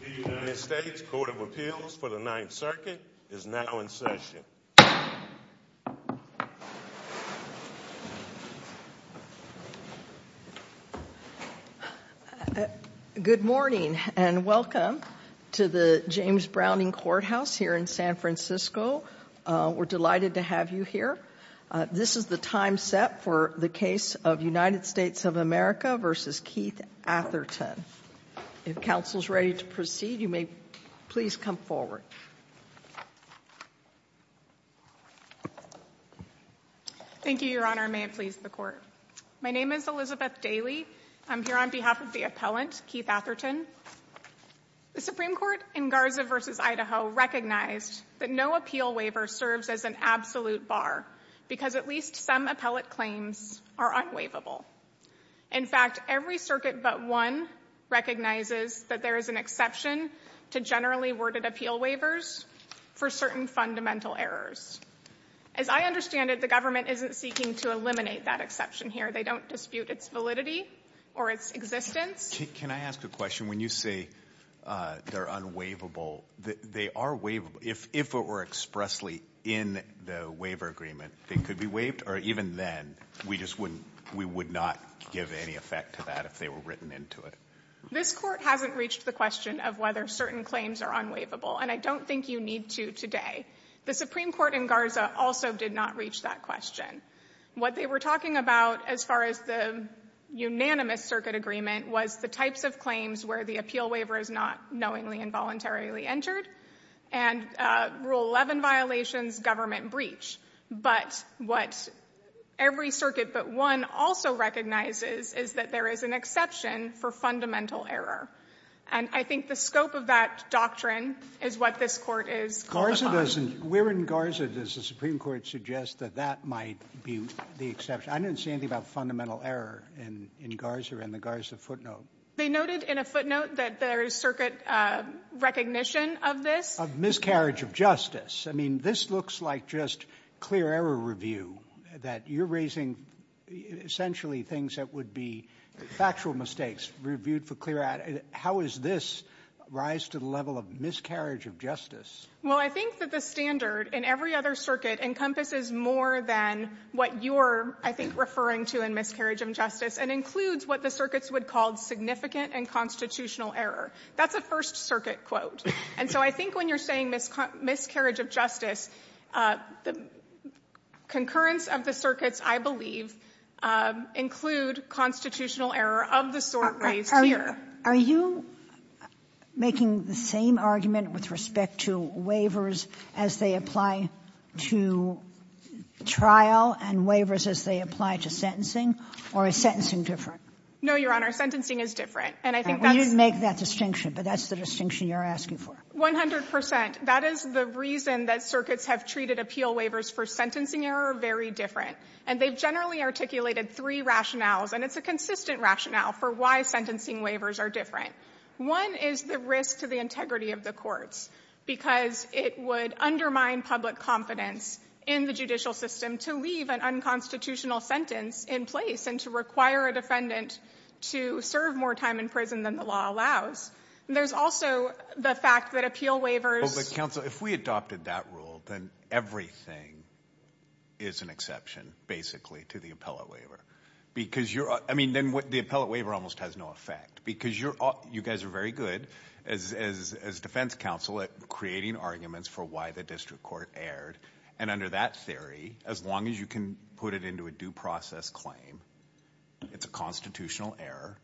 The United States Court of Appeals for the Ninth Circuit is now in session. Good morning and welcome to the James Browning Courthouse here in San Francisco. We're delighted to have you here. This is the time set for the case of United States of America v. Keith Atherton. If counsel is ready to proceed, you may please come forward. Thank you, Your Honor. May it please the Court. My name is Elizabeth Daly. I'm here on behalf of the appellant, Keith Atherton. The Supreme Court in Garza v. Idaho recognized that no appeal waiver serves as an absolute bar because at least some appellate claims are unwaivable. In fact, every circuit but one recognizes that there is an exception to generally worded appeal waivers for certain fundamental errors. As I understand it, the government isn't seeking to eliminate that exception here. They don't dispute its validity or its existence. Can I ask a question? When you say they're unwaivable, they are waivable. If it were expressly in the waiver agreement, it could be waived or even then we would not give any effect to that if they were written into it. This Court hasn't reached the question of whether certain claims are unwaivable, and I don't think you need to today. The Supreme Court in Garza also did not reach that question. What they were talking about as far as the unanimous circuit agreement was the types of claims where the appeal waiver is not knowingly and voluntarily entered and Rule 11 violations government breach. But what every circuit but one also recognizes is that there is an exception for fundamental error, and I think the scope of that doctrine is what this Court is calling on. Where in Garza does the Supreme Court suggest that that might be the exception? I didn't see anything about fundamental error in Garza or in the Garza footnote. They noted in a footnote that there is circuit recognition of this. Of miscarriage of justice. I mean, this looks like just clear error review, that you're raising essentially things that would be factual mistakes reviewed for clear error. How is this rise to the level of miscarriage of justice? Well, I think that the standard in every other circuit encompasses more than what you're, I think, referring to in miscarriage of justice and includes what the circuits would call significant and constitutional error. That's a First Circuit quote. And so I think when you're saying miscarriage of justice, the concurrence of the circuits, I believe, include constitutional error of the sort raised here. Are you making the same argument with respect to waivers as they apply to trial and waivers as they apply to sentencing, or is sentencing different? No, Your Honor, sentencing is different. We didn't make that distinction, but that's the distinction you're asking for. One hundred percent. That is the reason that circuits have treated appeal waivers for sentencing error very different. And they generally articulated three rationales, and it's a consistent rationale for why sentencing waivers are different. One is the risk to the integrity of the court, because it would undermine public confidence in the judicial system to leave an unconstitutional sentence in place and to require a defendant to serve more time in prison than the law allows. And there's also the fact that appeal waivers— Well, but counsel, if we adopted that rule, then everything is an exception, basically, to the appellate waiver. Because you're—I mean, then the appellate waiver almost has no effect, because you guys are very good as defense counsel at creating arguments for why the district court erred. And under that theory, as long as you can put it into a due process claim, it's a constitutional error,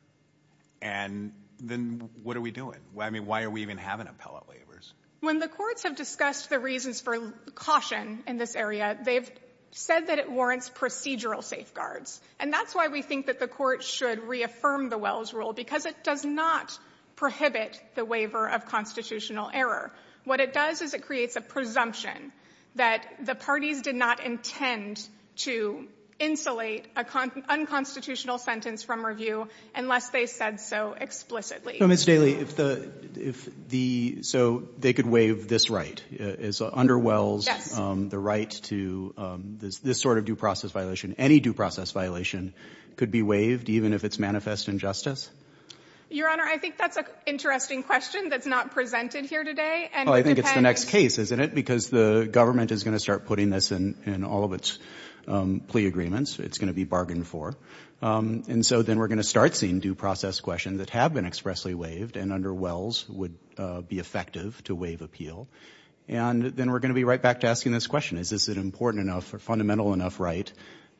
and then what are we doing? I mean, why are we even having appellate waivers? When the courts have discussed the reasons for caution in this area, they've said that it warrants procedural safeguards. And that's why we think that the court should reaffirm the Wells rule, because it does not prohibit the waiver of constitutional error. What it does is it creates a presumption that the parties did not intend to insulate an unconstitutional sentence from review unless they said so explicitly. So, Ms. Daley, if the—so they could waive this right? Under Wells, the right to this sort of due process violation, any due process violation could be waived, even if it's manifest injustice? Your Honor, I think that's an interesting question that's not presented here today. Well, I think it's the next case, isn't it? Because the government is going to start putting this in all of its plea agreements. It's going to be bargained for. And so then we're going to start seeing due process questions that have been expressly waived, and under Wells would be effective to waive appeal. And then we're going to be right back to asking this question. Is this an important enough or fundamental enough right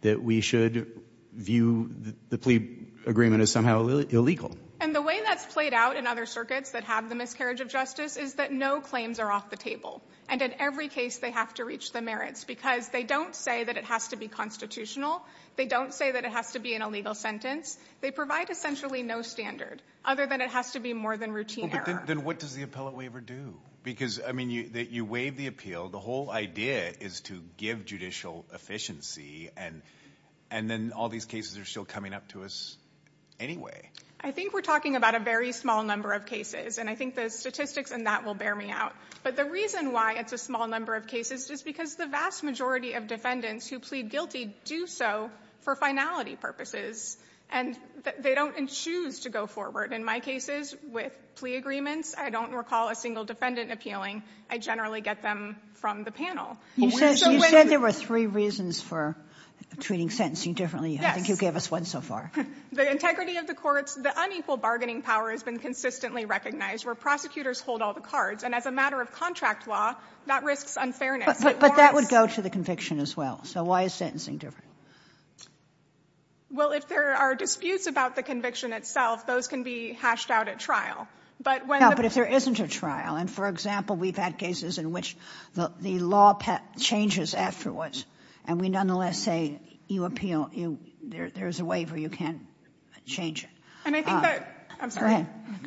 that we should view the plea agreement as somehow illegal? And the way that's played out in other circuits that have the miscarriage of justice is that no claims are off the table, and in every case they have to reach the merits because they don't say that it has to be constitutional. They don't say that it has to be an illegal sentence. They provide essentially no standard, other than it has to be more than routine error. Then what does the appellate waiver do? Because, I mean, you waive the appeal. The whole idea is to give judicial efficiency, and then all these cases are still coming up to us anyway. I think we're talking about a very small number of cases, and I think the statistics in that will bear me out. But the reason why it's a small number of cases is because the vast majority of defendants who plead guilty do so for finality purposes, and they don't choose to go forward. In my cases with plea agreements, I don't recall a single defendant appealing. I generally get them from the panel. You said there were three reasons for treating sentencing differently. I think you gave us one so far. The integrity of the courts, the unequal bargaining power has been consistently recognized, where prosecutors hold all the cards, and as a matter of contract law, that risks unfairness. But that would go to the conviction as well. So why is sentencing different? Well, if there are disputes about the conviction itself, those can be hashed out at trial. But if there isn't a trial, and, for example, we've had cases in which the law changes afterwards, and we nonetheless say there's a waiver, you can't change it. Go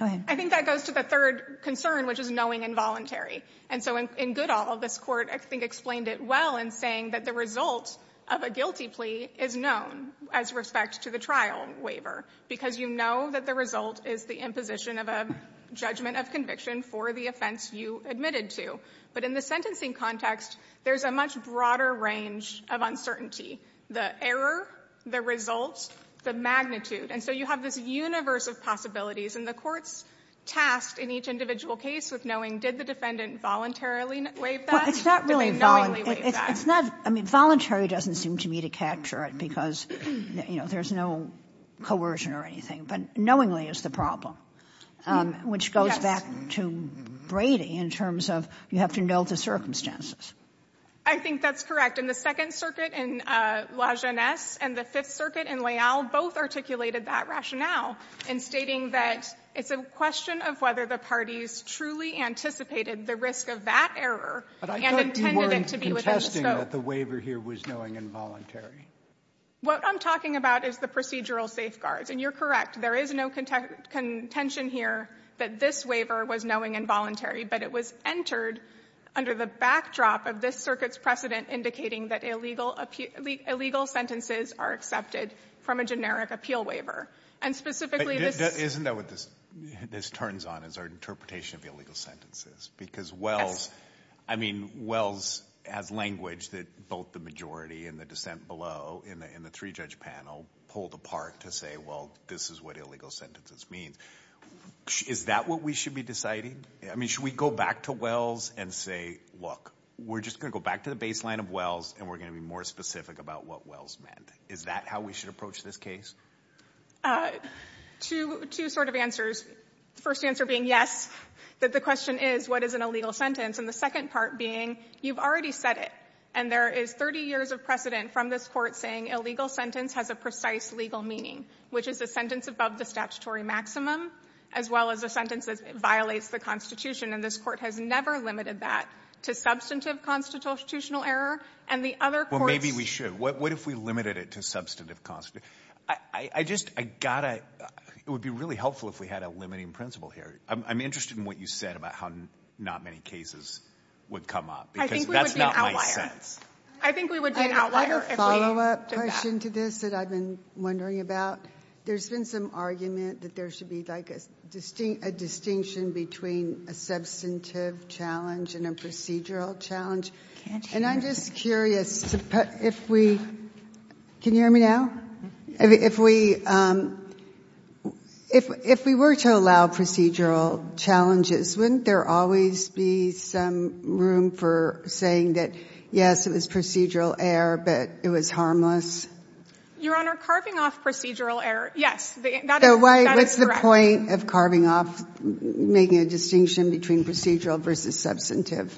ahead. I think that goes to the third concern, which is knowing involuntary. And so in good all, this court, I think, explained it well in saying that the result of a guilty plea is known as respect to the trial waiver because you know that the result is the imposition of a judgment of conviction for the offense you admitted to. But in the sentencing context, there's a much broader range of uncertainty, the error, the result, the magnitude. And so you have this universe of possibilities, and the courts task in each individual case with knowing, did the defendant voluntarily waive that? It's not really voluntary. I mean, voluntary doesn't seem to me to capture it because, you know, there's no coercion or anything. But knowingly is the problem, which goes back to Brady in terms of you have to know the circumstances. I think that's correct. And the Second Circuit in La Jeunesse and the Fifth Circuit in Layal both articulated that rationale in stating that it's a question of whether the parties truly anticipated the risk of that error and intended it to be within the scope. It's interesting that the waiver here was knowing involuntary. What I'm talking about is the procedural safeguards, and you're correct. There is no contention here that this waiver was knowing involuntary, but it was entered under the backdrop of this Circuit's precedent indicating that illegal sentences are accepted from a generic appeal waiver. Isn't that what this turns on as our interpretation of illegal sentences? Because Wells, I mean, Wells has language that both the majority and the dissent below in the three-judge panel pulled apart to say, well, this is what illegal sentences mean. Is that what we should be deciding? I mean, should we go back to Wells and say, look, we're just going to go back to the baseline of Wells and we're going to be more specific about what Wells meant? Is that how we should approach this case? Two sort of answers. The first answer being yes, but the question is, what is an illegal sentence? And the second part being, you've already said it, and there is 30 years of precedent from this Court saying illegal sentence has a precise legal meaning, which is a sentence above the statutory maximum as well as a sentence that violates the Constitution, and this Court has never limited that to substantive constitutional error. Well, maybe we should. What if we limited it to substantive constitutional error? I just got to – it would be really helpful if we had a limiting principle here. I'm interested in what you said about how not many cases would come up, because that's not my defense. I think we would be an outlier. I have a follow-up question to this that I've been wondering about. There's been some argument that there should be like a distinction between a substantive challenge and a procedural challenge, and I'm just curious if we – can you hear me now? If we were to allow procedural challenges, wouldn't there always be some room for saying that, yes, it was procedural error, but it was harmless? Your Honor, carving off procedural error, yes, that is correct. So why, what's the point of carving off, making a distinction between procedural versus substantive?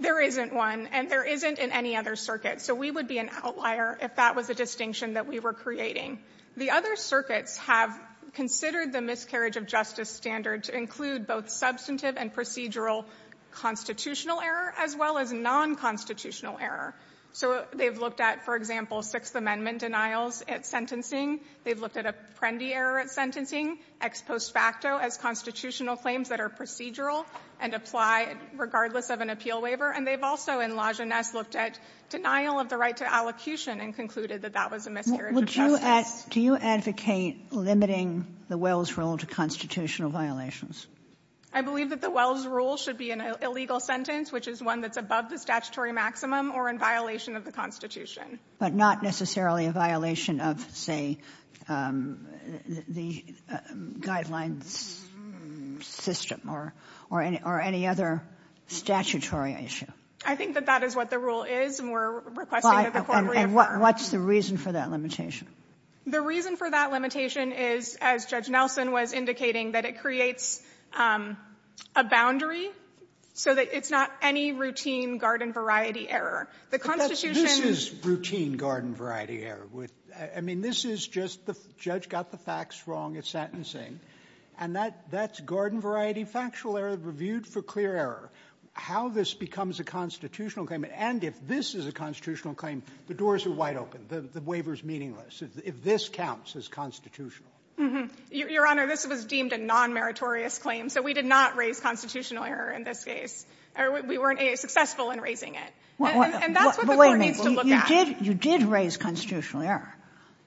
There isn't one, and there isn't in any other circuit. So we would be an outlier if that was a distinction that we were creating. The other circuits have considered the miscarriage of justice standards to include both substantive and procedural constitutional error as well as nonconstitutional error. So they've looked at, for example, Sixth Amendment denials at sentencing. They've looked at a Prendy error at sentencing, ex post facto as constitutional claims that are procedural, and apply regardless of an appeal waiver. And they've also, in Lajeunesse, looked at denial of the right to allocution and concluded that that was a miscarriage of justice. Do you advocate limiting the Wells rule to constitutional violations? I believe that the Wells rule should be an illegal sentence, which is one that's above the statutory maximum or in violation of the Constitution. But not necessarily a violation of, say, the guideline system or any other statutory issue. I think that that is what the rule is, and we're requesting a reform of the rule. And what's the reason for that limitation? The reason for that limitation is, as Judge Nelson was indicating, that it creates a boundary so that it's not any routine garden variety error. This is routine garden variety error. I mean, this is just the judge got the facts wrong at sentencing, and that's garden variety factual error reviewed for clear error. How this becomes a constitutional claim, and if this is a constitutional claim, the doors are wide open. The waiver's meaningless if this counts as constitutional. Your Honor, this was deemed a non-meritorious claim, so we did not raise constitutional error in this case. We weren't successful in raising it. And that's what the court needs to look at. You did raise constitutional error.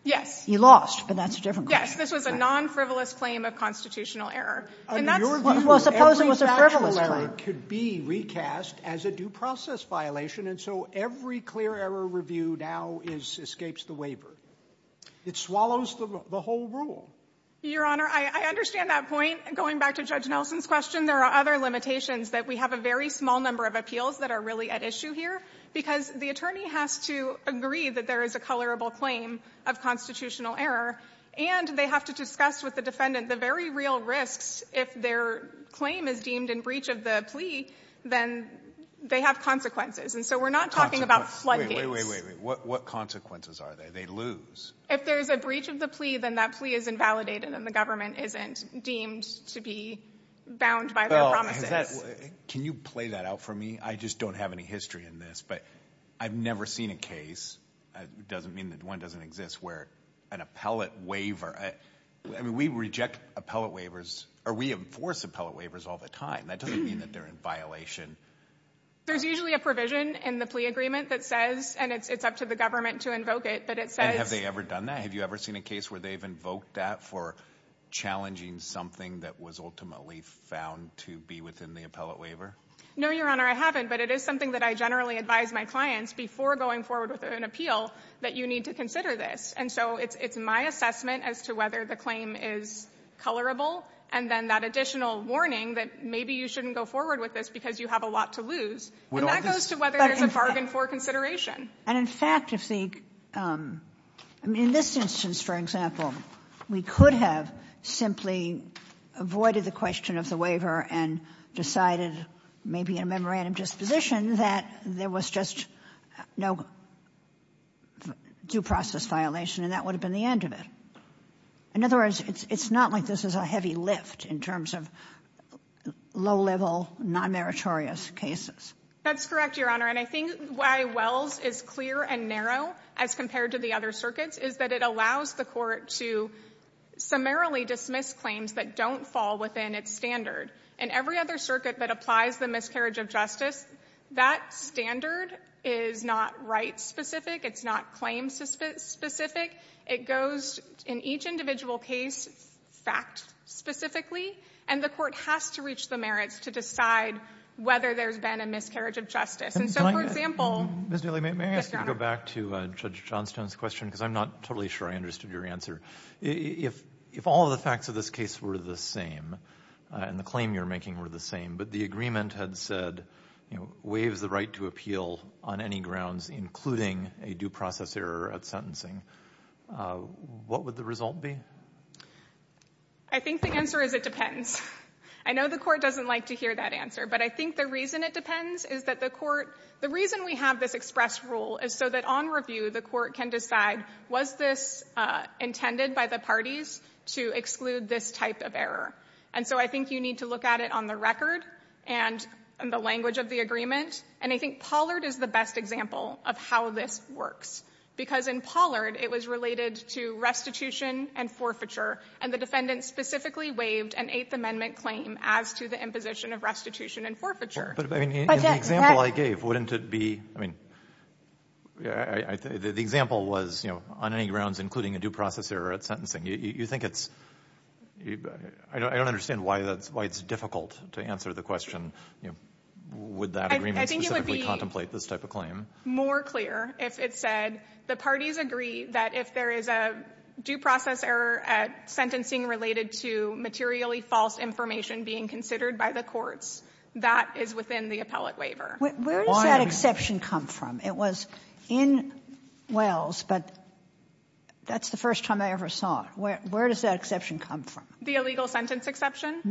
Yes. You lost, but that's a different question. Yes, this was a non-frivolous claim of constitutional error. Your view is every factual error could be recast as a due process violation, and so every clear error review now escapes the waiver. It swallows the whole rule. Your Honor, I understand that point. Going back to Judge Nelson's question, there are other limitations that we have a very small number of appeals that are really at issue here, because the attorney has to agree that there is a colorable claim of constitutional error, and they have to discuss with the defendant the very real risks if their claim is deemed in breach of the plea, then they have consequences. And so we're not talking about flooding. Wait, wait, wait. What consequences are there? They lose. If there's a breach of the plea, then that plea is invalidated and the government isn't deemed to be bound by the promises. Can you play that out for me? I just don't have any history in this, but I've never seen a case. It doesn't mean that one doesn't exist where an appellate waiver – I mean, we reject appellate waivers or we enforce appellate waivers all the time. That doesn't mean that they're in violation. There's usually a provision in the plea agreement that says, and it's up to the government to invoke it, that it says – And have they ever done that? Have you ever seen a case where they've invoked that for challenging something that was ultimately found to be within the appellate waiver? No, Your Honor, I haven't, but it is something that I generally advise my clients before going forward with an appeal that you need to consider this. And so it's my assessment as to whether the claim is colorable and then that additional warning that maybe you shouldn't go forward with this because you have a lot to lose. And that goes to whether there's a bargain for consideration. And in fact, if the – I mean, in this instance, for example, we could have simply avoided the question of the waiver and decided maybe in a memorandum disposition that there was just no due process violation and that would have been the end of it. In other words, it's not like this is a heavy lift in terms of low-level, non-meritorious cases. That's correct, Your Honor, and I think why Weld is clear and narrow as compared to the other circuits is that it allows the court to summarily dismiss claims that don't fall within its standard. And every other circuit that applies the miscarriage of justice, that standard is not right-specific. It's not claim-specific. It goes, in each individual case, fact-specifically, and the court has to reach the merits to decide whether there's been a miscarriage of justice. And so, for example— Ms. Daley, may I ask you to go back to Judge Johnstone's question because I'm not totally sure I understood your answer. If all the facts of this case were the same and the claim you're making were the same but the agreement had said, you know, waive the right to appeal on any grounds, including a due process error at sentencing, what would the result be? I think the answer is it depends. I know the court doesn't like to hear that answer, but I think the reason it depends is that the court— the reason we have this express rule is so that on review the court can decide, was this intended by the parties to exclude this type of error? And so I think you need to look at it on the record and in the language of the agreement, and I think Pollard is the best example of how this works because in Pollard it was related to restitution and forfeiture, and the defendant specifically waived an Eighth Amendment claim as to the imposition of restitution and forfeiture. In the example I gave, wouldn't it be— the example was, you know, on any grounds, including a due process error at sentencing. You think it's—I don't understand why it's difficult to answer the question. Would that agreement specifically contemplate this type of claim? I think it would be more clear if it said the parties agree that if there is a due process error at sentencing related to materially false information being considered by the courts, that is within the appellate waiver. Where did that exception come from? It was in Wells, but that's the first time I ever saw it. Where does that exception come from? The illegal sentence exception?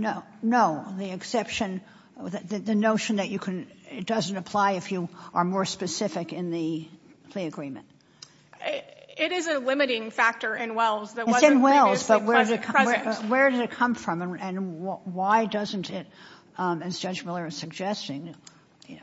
No, the exception—the notion that you can— it doesn't apply if you are more specific in the agreement. It is a limiting factor in Wells. It's in Wells, but where did it come from, and why doesn't it, as Judge Molera is suggesting,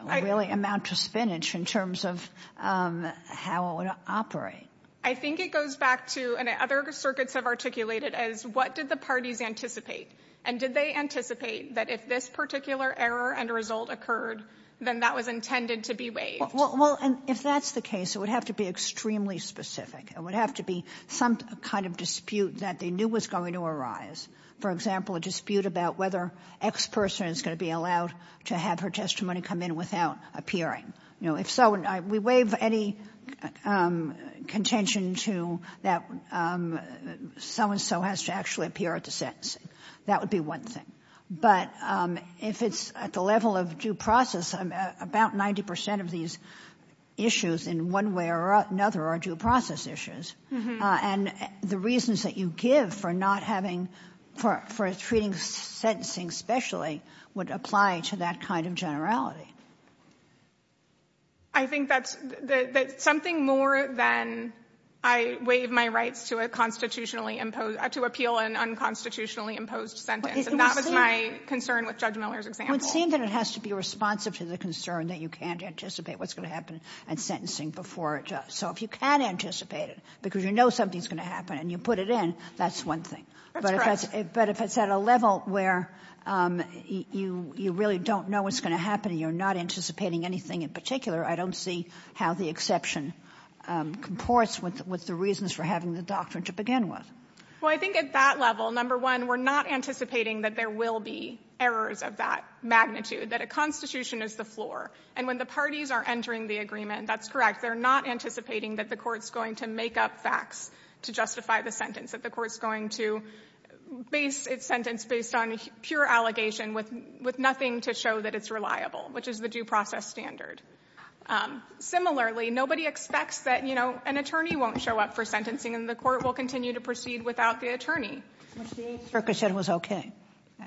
really amount to spinach in terms of how it would operate? I think it goes back to—and other circuits have articulated it as, what did the parties anticipate? And did they anticipate that if this particular error and result occurred, then that was intended to be waived? Well, if that's the case, it would have to be extremely specific. It would have to be some kind of dispute that they knew was going to arise. For example, a dispute about whether X person is going to be allowed to have her testimony come in without appearing. If so, we waive any contention that so-and-so has to actually appear at the sentencing. That would be one thing. But if it's at the level of due process, about 90% of these issues in one way or another are due process issues. And the reasons that you give for not having— for treating sentencing specially would apply to that kind of generality. I think that's something more than I waive my rights to a constitutionally imposed— to appeal an unconstitutionally imposed sentence. And that was my concern with Judge Molera's example. Well, it seems that it has to be responsive to the concern that you can't anticipate what's going to happen at sentencing before it does. So if you can anticipate it because you know something's going to happen and you put it in, that's one thing. That's correct. But if it's at a level where you really don't know what's going to happen and you're not anticipating anything in particular, I don't see how the exception comports with the reasons for having the doctrine to begin with. Well, I think at that level, number one, we're not anticipating that there will be errors of that magnitude, that a constitution is the floor. And when the parties are entering the agreement, that's correct, they're not anticipating that the court's going to make up facts to justify the sentence, that the court's going to base its sentence based on pure allegation with nothing to show that it's reliable, which is the due process standard. Similarly, nobody expects that, you know, an attorney won't show up for sentencing and the court will continue to proceed without the attorney. The circuit said it was okay.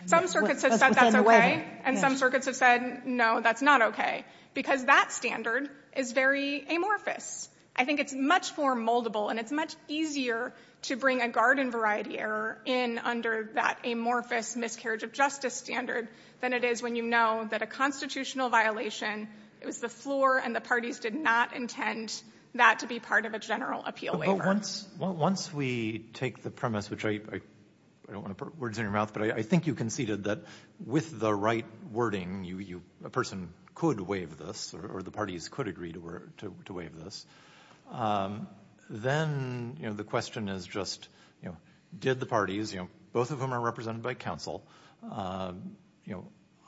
Some circuits have said that's okay, and some circuits have said, no, that's not okay, because that standard is very amorphous. I think it's much more moldable and it's much easier to bring a garden variety error in under that amorphous miscarriage of justice standard than it is when you know that a constitutional violation is the floor and the parties did not intend that to be part of a general appeal waiver. Well, once we take the premise, which I don't want to put words in your mouth, but I think you conceded that with the right wording, a person could waive this or the parties could agree to waive this, then the question is just did the parties, both of whom are represented by counsel,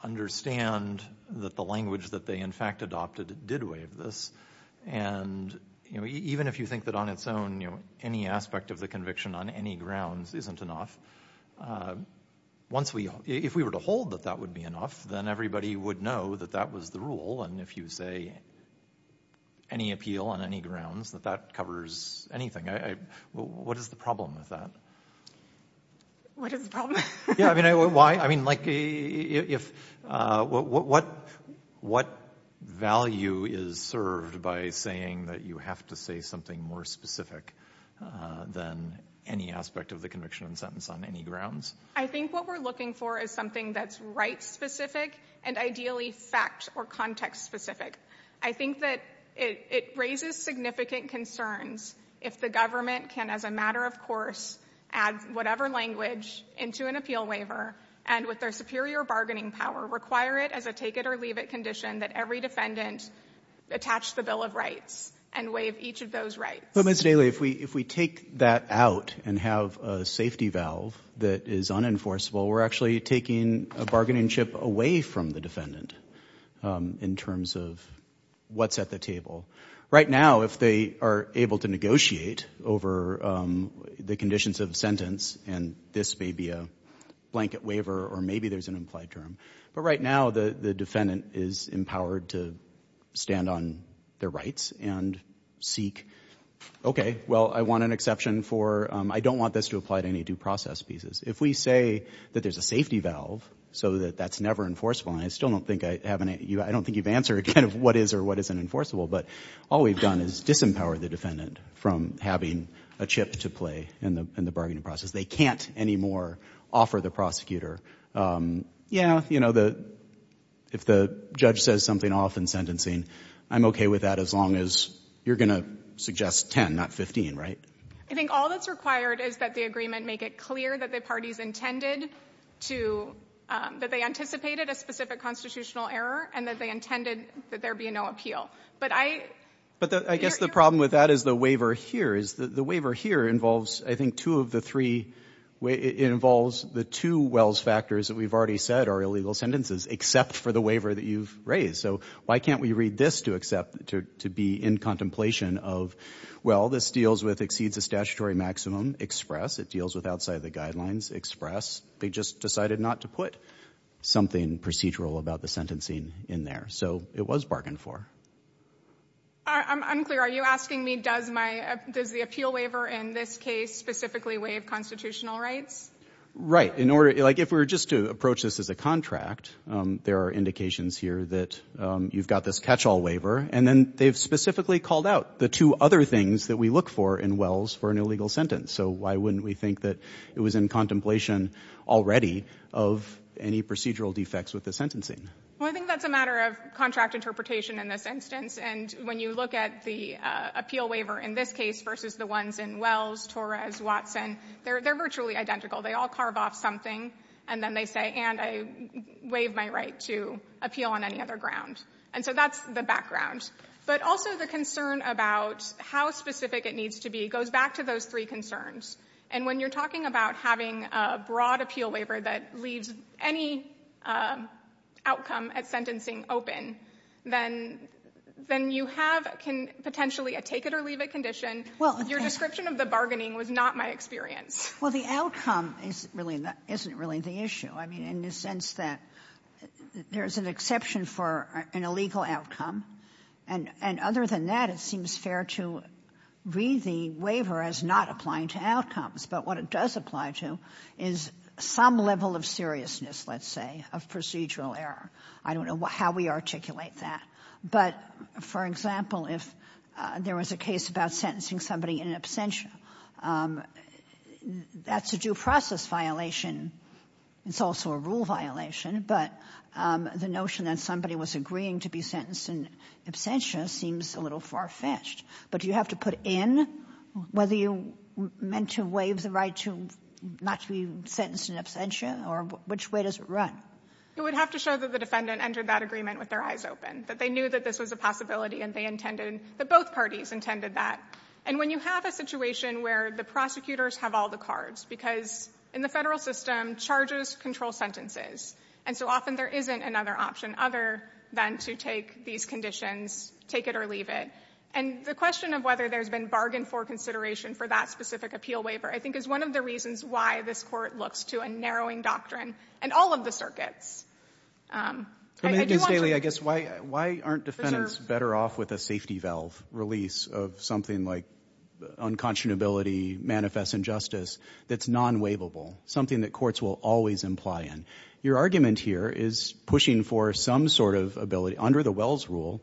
understand that the language that they in fact adopted did waive this, and even if you think that on its own any aspect of the conviction on any grounds isn't enough, if we were to hold that that would be enough, then everybody would know that that was the rule, and if you say any appeal on any grounds, that that covers anything. What is the problem with that? What is the problem? I mean, what value is served by saying that you have to say something more specific than any aspect of the conviction and sentence on any grounds? I think what we're looking for is something that's right-specific and ideally fact- or context-specific. I think that it raises significant concerns if the government can, as a matter of course, add whatever language into an appeal waiver and with their superior bargaining power, require it as a take-it-or-leave-it condition that every defendant attach the Bill of Rights and waive each of those rights. But, Mr. Daley, if we take that out and have a safety valve that is unenforceable, we're actually taking a bargaining chip away from the defendant in terms of what's at the table. Right now, if they are able to negotiate over the conditions of the sentence, and this may be a blanket waiver or maybe there's an implied term, but right now the defendant is empowered to stand on their rights and seek, okay, well, I want an exception for, I don't want this to apply to any due process pieces. If we say that there's a safety valve so that that's never enforceable, and I still don't think you've answered kind of what is or what isn't enforceable, but all we've done is disempower the defendant from having a chip to play in the bargaining process. They can't anymore offer the prosecutor, yeah, you know, if the judge says something off in sentencing, I'm okay with that as long as you're going to suggest 10, not 15, right? I think all that's required is that the agreement make it clear that the parties intended to, that they anticipated a specific constitutional error and that they intended that there be no appeal. But I guess the problem with that is the waiver here. I think two of the three involves the two Wells factors that we've already said are illegal sentences, except for the waiver that you've raised. So why can't we read this to accept, to be in contemplation of, well, this deals with exceeds the statutory maximum, express. It deals with outside the guidelines, express. They just decided not to put something procedural about the sentencing in there. So it was bargained for. I'm unclear. Are you asking me does the appeal waiver in this case specifically waive constitutional rights? Right. Like if we were just to approach this as a contract, there are indications here that you've got this catch-all waiver, and then they've specifically called out the two other things that we look for in Wells for an illegal sentence. So why wouldn't we think that it was in contemplation already of any procedural defects with the sentencing? Well, I think that's a matter of contract interpretation in this instance. And when you look at the appeal waiver in this case versus the ones in Wells, Torres, Watson, they're virtually identical. They all carve off something, and then they say, and I waive my right to appeal on any other ground. And so that's the background. But also the concern about how specific it needs to be goes back to those three concerns. And when you're talking about having a broad appeal waiver that leaves any outcome at sentencing open, then you have potentially a take-it-or-leave-it condition. Your description of the bargaining was not my experience. Well, the outcome isn't really the issue in the sense that there's an exception for an illegal outcome. And other than that, it seems fair to read the waiver as not applying to outcomes. But what it does apply to is some level of seriousness, let's say, of procedural error. I don't know how we articulate that. But, for example, if there was a case about sentencing somebody in absentia, that's a due process violation. It's also a rule violation. But the notion that somebody was agreeing to be sentenced in absentia seems a little far-fetched. But do you have to put in whether you meant to waive the right not to be sentenced in absentia? Or which way does it run? It would have to show that the defendant entered that agreement with their eyes open, that they knew that this was a possibility and that both parties intended that. And when you have a situation where the prosecutors have all the cards, because in the federal system, charges control sentences. And so often there isn't another option other than to take these conditions, take it or leave it. And the question of whether there's been bargain for consideration for that specific appeal waiver, I think, is one of the reasons why this court looks to a narrowing doctrine in all of the circuits. I guess why aren't defendants better off with a safety valve release of something like unconscionability, manifest injustice that's non-waivable, something that courts will always imply in. Your argument here is pushing for some sort of ability under the Wells rule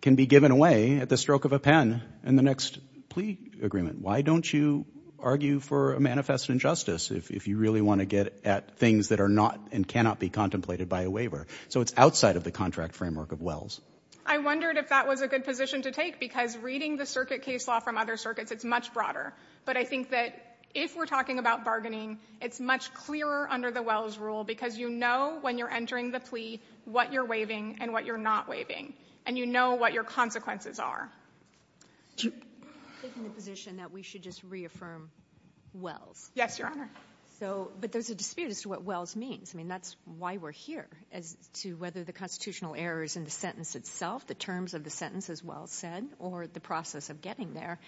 can be given away at the stroke of a pen in the next plea agreement. Why don't you argue for a manifest injustice if you really want to get at things that are not and cannot be contemplated by a waiver? So it's outside of the contract framework of Wells. I wondered if that was a good position to take, because reading the circuit case law from other circuits, it's much broader. But I think that if we're talking about bargaining, it's much clearer under the Wells rule, because you know when you're entering the plea what you're waiving and what you're not waiving, and you know what your consequences are. Isn't the position that we should just reaffirm Wells? Yes, Your Honor. But there's a dispute as to what Wells means. I mean, that's why we're here, as to whether the constitutional error is in the sentence itself, the terms of the sentence as Wells said, or the process of getting there,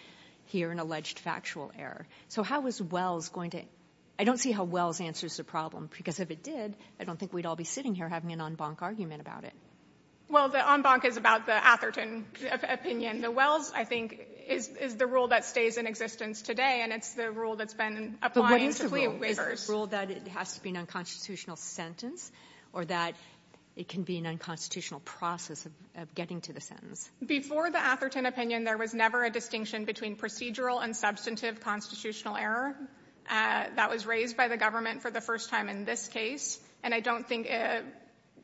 here an alleged factual error. So how is Wells going to – I don't see how Wells answers the problem, because if it did, I don't think we'd all be sitting here having an en banc argument about it. Well, the en banc is about the Atherton opinion. The Wells, I think, is the rule that stays in existence today, and it's the rule that's been applied to plea waivers. Is it a rule that it has to be an unconstitutional sentence, or that it can be an unconstitutional process of getting to the sentence? Before the Atherton opinion, there was never a distinction between procedural and substantive constitutional error. That was raised by the government for the first time in this case, and I don't think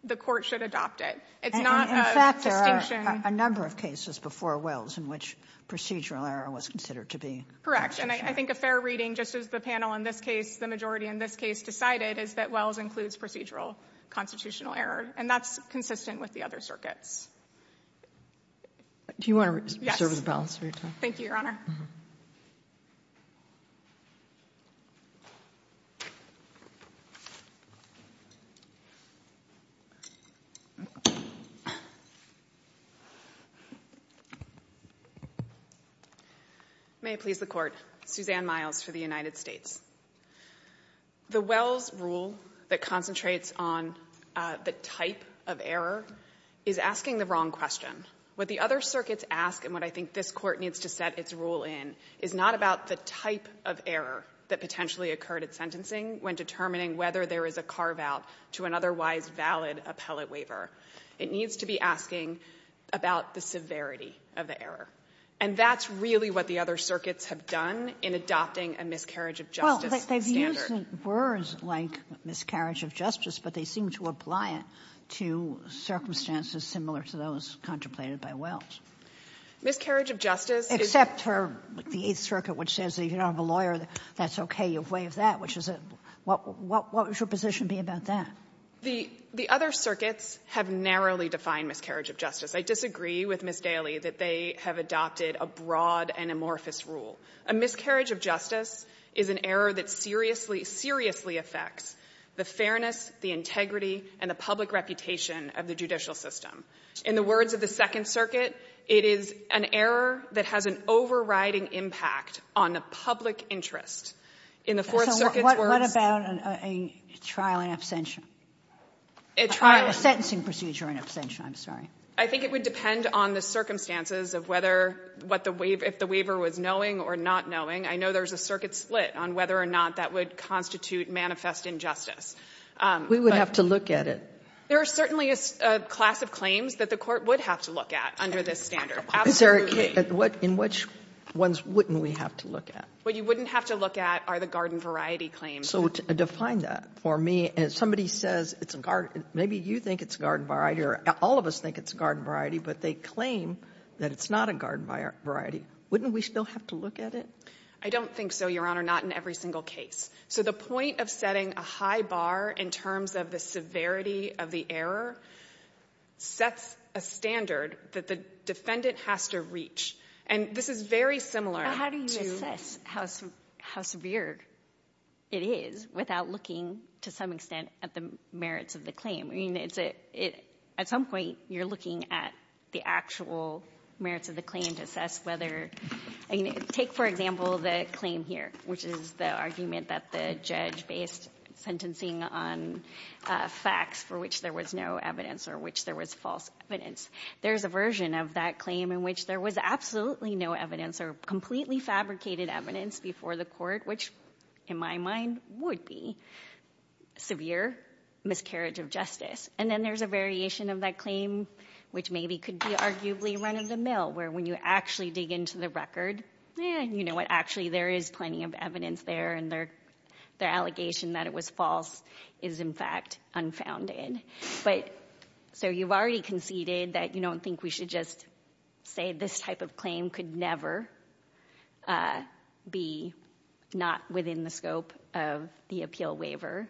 the court should adopt it. In fact, there are a number of cases before Wells in which procedural error was considered to be. Correct, and I think a fair reading, just as the panel in this case, the majority in this case, decided is that Wells includes procedural constitutional error, and that's consistent with the other circuits. Do you want to serve as a balancer? Thank you, Your Honor. May it please the Court, Suzanne Miles for the United States. The Wells rule that concentrates on the type of error is asking the wrong question. What the other circuits ask, and what I think this court needs to set its rule in, is not about the type of error that potentially occurred at sentencing when determining whether there is a carve-out to an otherwise valid appellate waiver. It needs to be asking about the severity of the error, and that's really what the other circuits have done in adopting a miscarriage of justice standard. Well, they've used words like miscarriage of justice, but they seem to apply it to circumstances similar to those contemplated by Wells. Miscarriage of justice is... Except for the Eighth Circuit, which says that if you don't have a lawyer, that's okay, you waive that, which is a – what would your position be about that? The other circuits have narrowly defined miscarriage of justice. I disagree with Ms. Daly that they have adopted a broad and amorphous rule. A miscarriage of justice is an error that seriously, seriously affects the fairness, the integrity, and the public reputation of the judicial system. In the words of the Second Circuit, it is an error that has an overriding impact on the public interest. In the Fourth Circuit's words... So what about a trial and abstention? A trial and... A sentencing procedure and abstention, I'm sorry. I think it would depend on the circumstances of whether – if the waiver was knowing or not knowing. I know there's a circuit split on whether or not that would constitute manifest injustice. We would have to look at it. There are certainly a class of claims that the court would have to look at under this standard. In which ones wouldn't we have to look at? What you wouldn't have to look at are the garden variety claims. So define that for me. Maybe you think it's garden variety or all of us think it's garden variety, but they claim that it's not a garden variety. Wouldn't we still have to look at it? I don't think so, Your Honor. Not in every single case. So the point of setting a high bar in terms of the severity of the error sets a standard that the defendant has to reach. And this is very similar to... At some point you're looking at the actual merits of the claim to assess whether... Take, for example, the claim here, which is the argument that the judge based sentencing on facts for which there was no evidence or which there was false evidence. There's a version of that claim in which there was absolutely no evidence or completely fabricated evidence before the court, which, in my mind, would be severe miscarriage of justice. And then there's a variation of that claim which maybe could be arguably run of the mill where when you actually dig into the record, you know what, actually there is plenty of evidence there and the allegation that it was false is, in fact, unfounded. So you've already conceded that you don't think we should just say that this type of claim could never be not within the scope of the appeal waiver.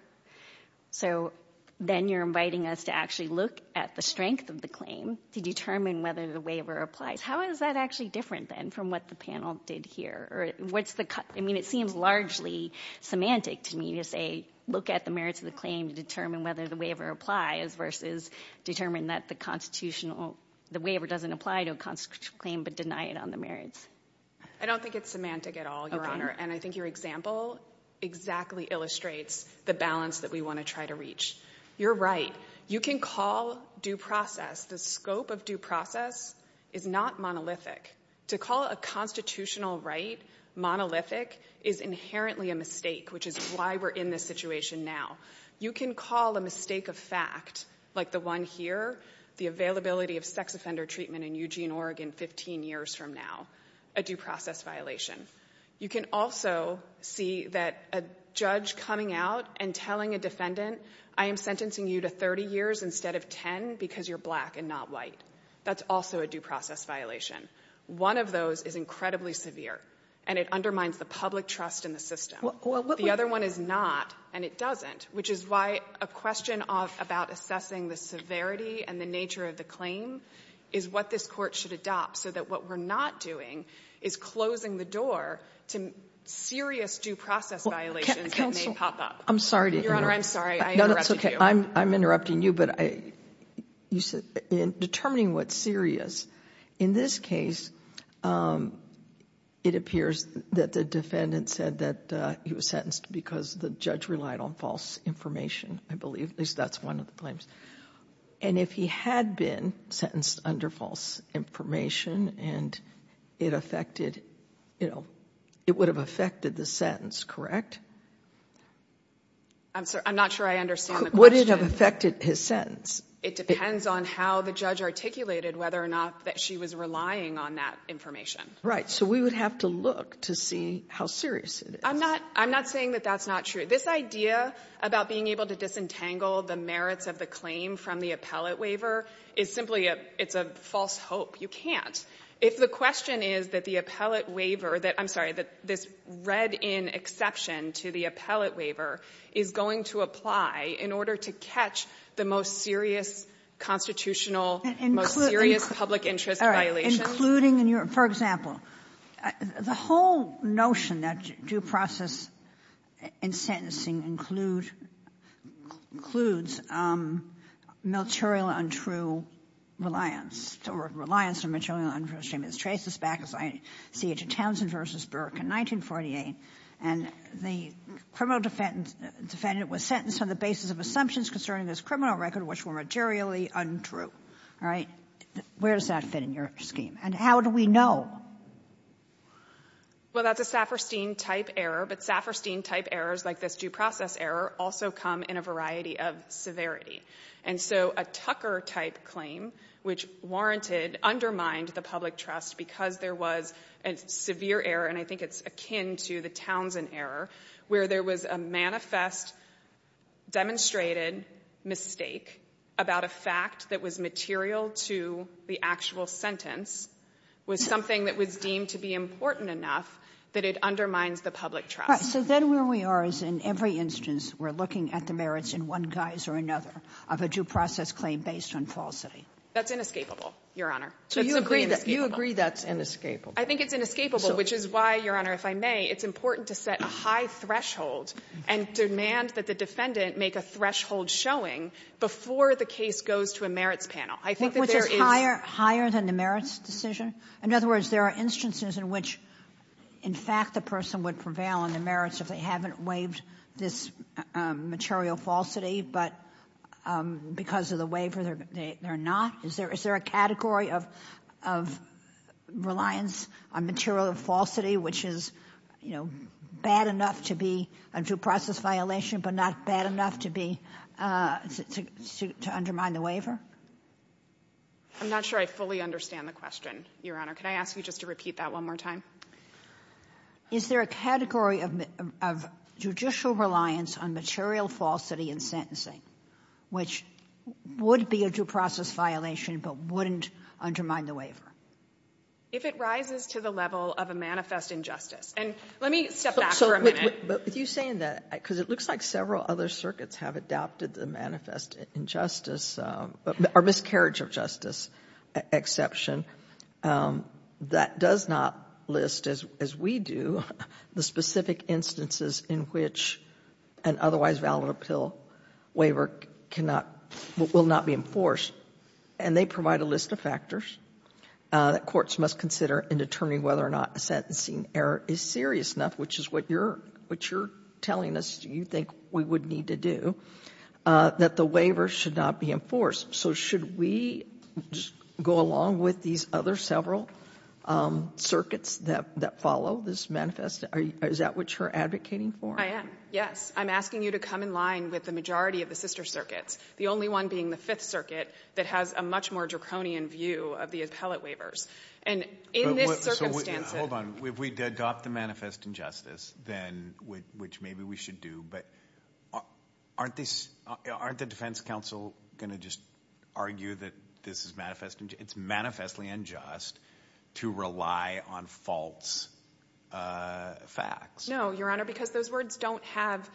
So then you're inviting us to actually look at the strength of the claim to determine whether the waiver applies. How is that actually different, then, from what the panel did here? Or what's the... I mean, it seems largely semantic to me to say look at the merits of the claim to determine whether the waiver applies versus determine that the constitutional... the waiver doesn't apply to a constitutional claim but deny it on the merits. I don't think it's semantic at all, Your Honor, and I think your example exactly illustrates the balance that we want to try to reach. You're right. You can call due process. The scope of due process is not monolithic. To call a constitutional right monolithic is inherently a mistake, which is why we're in this situation now. You can call a mistake of fact, like the one here, the availability of sex offender treatment in Eugene, Oregon, 15 years from now, a due process violation. You can also see that a judge coming out and telling a defendant, I am sentencing you to 30 years instead of 10 because you're black and not white. That's also a due process violation. One of those is incredibly severe, and it undermines the public trust in the system. The other one is not, and it doesn't, which is why a question about assessing the severity and the nature of the claim is what this court should adopt so that what we're not doing is closing the door to serious due process violations that may pop up. Counsel, I'm sorry to interrupt. Your Honor, I'm sorry. I interrupted you. I'm interrupting you, but you said determining what's serious. In this case, it appears that the defendant said that he was sentenced because the judge relied on false information, I believe. That's one of the claims. If he had been sentenced under false information, it would have affected the sentence, correct? I'm not sure I understand the question. Would it have affected his sentence? It depends on how the judge articulated whether or not that she was relying on that information. Right. So we would have to look to see how serious it is. I'm not saying that that's not true. This idea about being able to disentangle the merits of the claim from the appellate waiver is simply a false hope. You can't. If the question is that the appellate waiver, I'm sorry, that this read-in exception to the appellate waiver is going to apply in order to catch the most serious constitutional, most serious public interest violation. For example, the whole notion that due process in sentencing includes material untrue reliance, or reliance on material untrue statements. Trace this back to Townsend v. Burke in 1948. The criminal defendant was sentenced on the basis of assumptions concerning this criminal record, which were materially untrue. Where does that fit in your scheme, and how do we know? That's a Saperstein-type error, but Saperstein-type errors like this due process error also come in a variety of severity. A Tucker-type claim, which warranted, undermined the public trust because there was a severe error, and I think it's akin to the Townsend error, where there was a manifest, demonstrated mistake about a fact that was material to the actual sentence with something that would seem to be important enough that it undermines the public trust. Then where we are is in every instance we're looking at the merits in one guise or another of a due process claim based on falsity. That's inescapable, Your Honor. So you agree that's inescapable? I think it's inescapable, which is why, Your Honor, if I may, it's important to set a high threshold and demand that the defendant make a threshold showing before the case goes to a merits panel. Was it higher than the merits decision? In other words, there are instances in which, in fact, the person would prevail on the merits if they haven't waived this material falsity, but because of the waiver they're not? Is there a category of reliance on material falsity, which is bad enough to be a due process violation but not bad enough to undermine the waiver? I'm not sure I fully understand the question, Your Honor. Can I ask you just to repeat that one more time? Is there a category of judicial reliance on material falsity in sentencing, which would be a due process violation but wouldn't undermine the waiver? If it rises to the level of a manifest injustice. And let me step back for a minute. But if you're saying that, because it looks like several other circuits have adopted the manifest injustice or miscarriage of justice exception, that does not list, as we do, the specific instances in which an otherwise valid appeal waiver will not be enforced. And they provide a list of factors that courts must consider in determining whether or not a sentencing error is serious enough, which is what you're telling us you think we would need to do, that the waiver should not be enforced. So should we just go along with these other several circuits that follow this manifest? Is that what you're advocating for? I am, yes. I'm asking you to come in line with the majority of the sister circuits, the only one being the Fifth Circuit that has a much more draconian view of the appellate waivers. Hold on. If we adopt the manifest injustice, which maybe we should do, but aren't the defense counsel going to just argue that this is manifest injustice? It's manifestly unjust to rely on false facts. No, Your Honor, because those words don't have,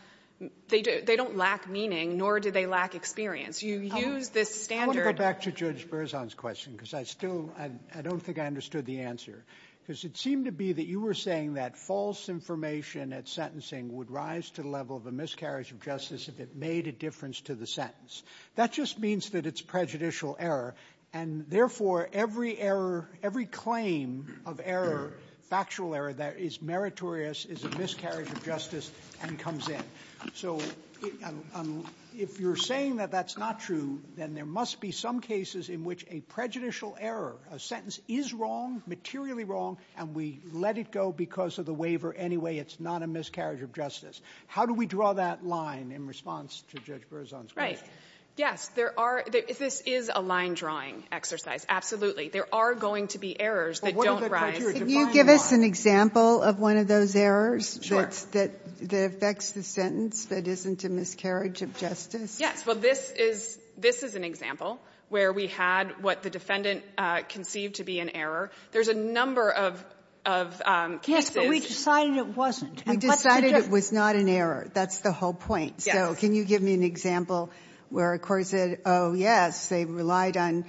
they don't lack meaning, nor do they lack experience. You use this standard. I want to go back to Judge Berzon's question, because I still, I don't think I understood the answer. Because it seemed to be that you were saying that false information at sentencing would rise to the level of a miscarriage of justice if it made a difference to the sentence. That just means that it's prejudicial error, and therefore every error, every claim of error, factual error, that is meritorious is a miscarriage of justice and comes in. So if you're saying that that's not true, then there must be some cases in which a prejudicial error, a sentence is wrong, materially wrong, and we let it go because of the waiver anyway. It's not a miscarriage of justice. How do we draw that line in response to Judge Berzon's question? Right. Yes, there are, this is a line drawing exercise, absolutely. There are going to be errors that don't rise. Can you give us an example of one of those errors that affects the sentence that isn't a miscarriage of justice? Yes, well, this is an example where we had what the defendant conceived to be an error. There's a number of cases. Yes, but we decided it wasn't. We decided it was not an error. That's the whole point. Yes. So can you give me an example where a court said, oh, yes, they relied on,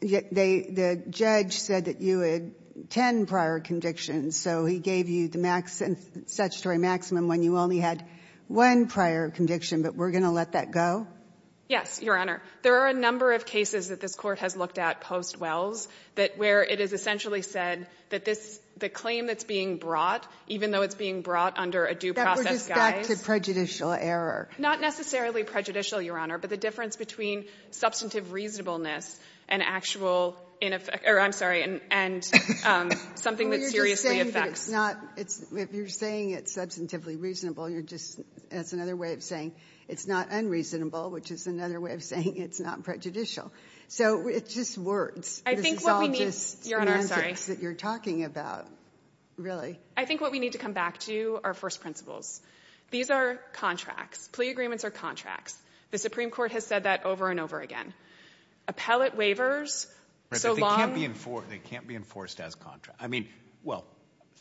the judge said that you had 10 prior convictions, so he gave you the statutory maximum when you only had one prior conviction, but we're going to let that go? Yes, Your Honor. There are a number of cases that this court has looked at post-Wells where it is essentially said that the claim that's being brought, even though it's being brought under a due process guide. That would have got to prejudicial error. Not necessarily prejudicial, Your Honor, but the difference between substantive reasonableness and actual, I'm sorry, and something that seriously affects. Well, you're saying that it's not, if you're saying it's substantively reasonable, and you're just, that's another way of saying it's not unreasonable, which is another way of saying it's not prejudicial. So it's just words. I think what we need, Your Honor, I'm sorry. It's all just sentences that you're talking about, really. I think what we need to come back to are first principles. These are contracts. Plea agreements are contracts. The Supreme Court has said that over and over again. Appellate waivers, so long. They can't be enforced as contracts. I mean, well,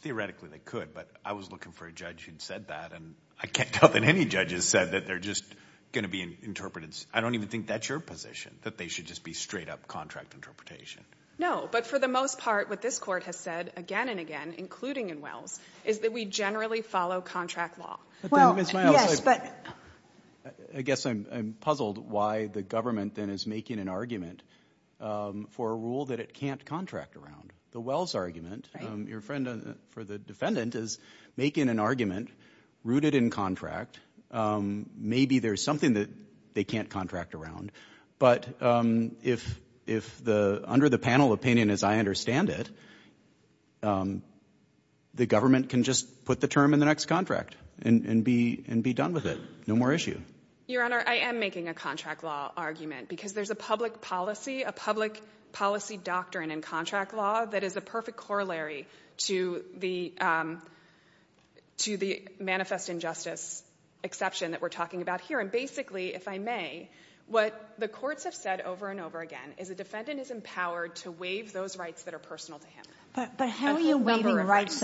theoretically they could, but I was looking for a judge who'd said that, and I can't tell that any judge has said that they're just going to be interpreted. I don't even think that's your position, that they should just be straight-up contract interpretation. No, but for the most part, what this court has said again and again, including in Wells, is that we generally follow contract law. I guess I'm puzzled why the government then is making an argument for a rule that it can't contract around. The Wells argument, your friend for the defendant, is making an argument rooted in contract. Maybe there's something that they can't contract around, but if under the panel opinion as I understand it, the government can just put the term in the next contract and be done with it. No more issue. Your Honor, I am making a contract law argument because there's a public policy, a public policy doctrine in contract law that is a perfect corollary to the manifest injustice exception that we're talking about here. And basically, if I may, what the courts have said over and over again is a defendant is empowered to waive those rights that are personal to him. But how are you waiving rights?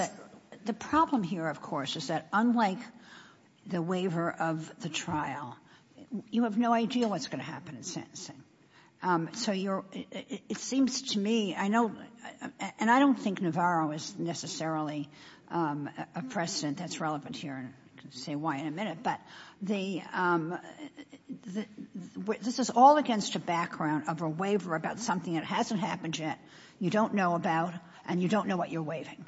The problem here, of course, is that unlike the waiver of the trial, you have no idea what's going to happen in sentencing. So it seems to me, and I don't think Navarro is necessarily a precedent that's relevant here, and I'll say why in a minute, but this is all against a background of a waiver about something that hasn't happened yet, you don't know about, and you don't know what you're waiving.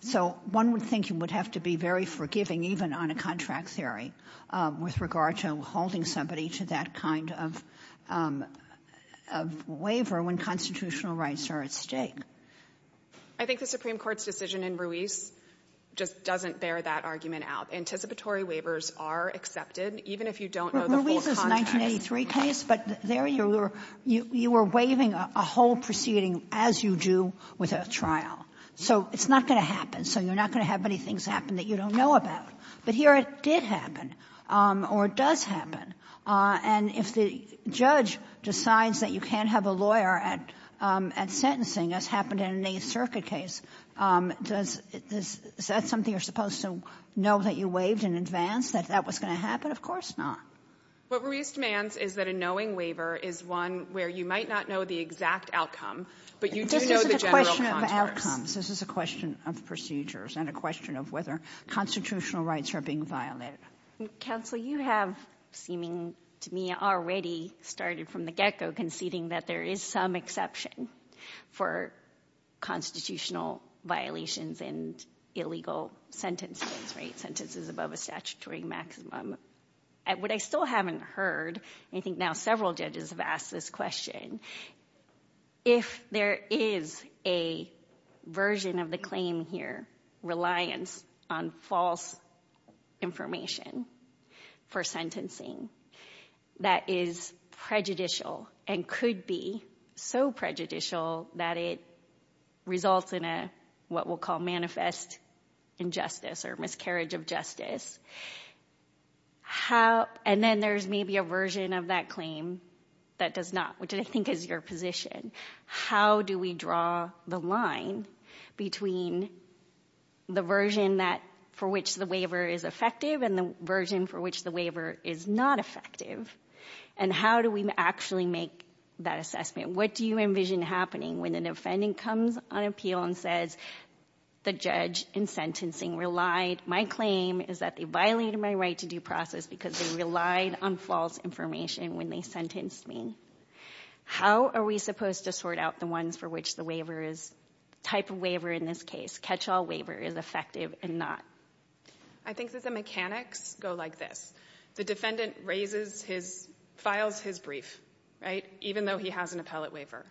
So one would think you would have to be very forgiving, even on a contract theory, with regard to holding somebody to that kind of waiver when constitutional rights are at stake. I think the Supreme Court's decision in Ruiz just doesn't bear that argument out. Anticipatory waivers are accepted, even if you don't know the full context. But there you were waiving a whole proceeding as you do with a trial. So it's not going to happen. So you're not going to have many things happen that you don't know about. But here it did happen, or it does happen. And if the judge decides that you can't have a lawyer at sentencing, as happened in the Nace-Circa case, is that something you're supposed to know that you waived in advance, that that was going to happen? Of course not. What Ruiz demands is that a knowing waiver is one where you might not know the exact outcome, but you do know the general context. This is a question of outcomes. This is a question of procedures and a question of whether constitutional rights are being violated. Counsel, you have, seeming to me, already started from the get-go conceding that there is some exception for constitutional violations in illegal sentences, sentences above a statutory maximum. What I still haven't heard, I think now several judges have asked this question, if there is a version of the claim here reliant on false information for sentencing that is prejudicial and could be so prejudicial that it results in what we'll call manifest injustice or miscarriage of justice, and then there's maybe a version of that claim that does not, which I think is your position. How do we draw the line between the version for which the waiver is effective and the version for which the waiver is not effective, and how do we actually make that assessment? What do you envision happening when an offendant comes on appeal and says, the judge in sentencing relied, my claim is that they violated my right to due process because they relied on false information when they sentenced me. How are we supposed to sort out the ones for which the waiver is, type of waiver in this case, catch-all waiver is effective and not? I think that the mechanics go like this. The defendant raises his, files his brief, right, even though he has an appellate waiver.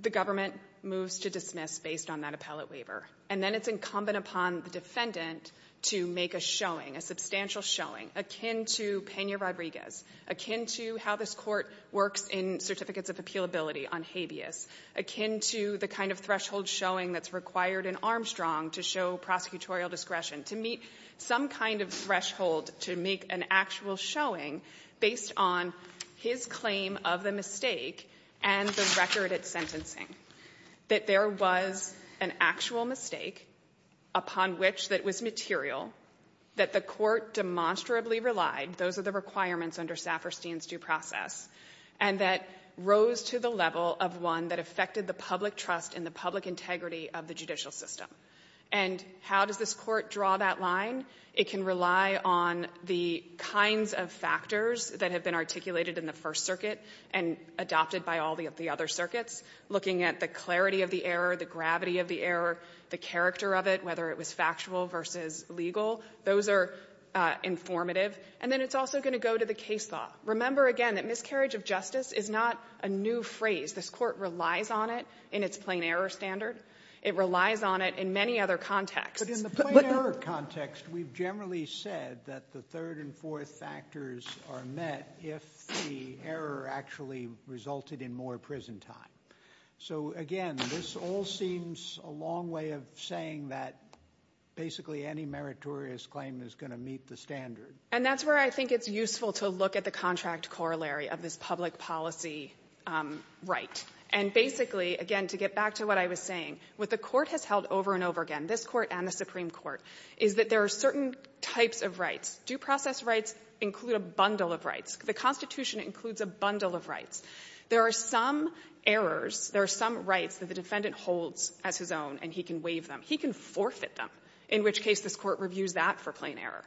The government moves to dismiss based on that appellate waiver, and then it's incumbent upon the defendant to make a showing, a substantial showing, akin to Pena Rodriguez, akin to how this court works in certificates of appealability on habeas, akin to the kind of threshold showing that's required in Armstrong to show prosecutorial discretion, to meet some kind of threshold to make an actual showing based on his claim of the mistake and the record of sentencing, that there was an actual mistake upon which that was material, that the court demonstrably relied, those are the requirements under Saperstein's due process, and that rose to the level of one that affected the public trust and the public integrity of the judicial system. And how does this court draw that line? It can rely on the kinds of factors that have been articulated in the First Circuit and adopted by all the other circuits, looking at the clarity of the error, the gravity of the error, the character of it, whether it was factual versus legal. Those are informative. And then it's also going to go to the case law. Remember, again, that miscarriage of justice is not a new phrase. This court relies on it in its plain error standard. It relies on it in many other contexts. But in the plain error context, we've generally said that the third and fourth factors are met if the error actually resulted in more prison time. So, again, this all seems a long way of saying that basically any meritorious claim is going to meet the standard. And that's where I think it's useful to look at the contract corollary of this public policy right. And basically, again, to get back to what I was saying, what the court has held over and over again, this court and the Supreme Court, is that there are certain types of rights. Due process rights include a bundle of rights. The Constitution includes a bundle of rights. There are some errors, there are some rights that the defendant holds as his own, and he can waive them. He can forfeit them, in which case this court reviews that for plain error.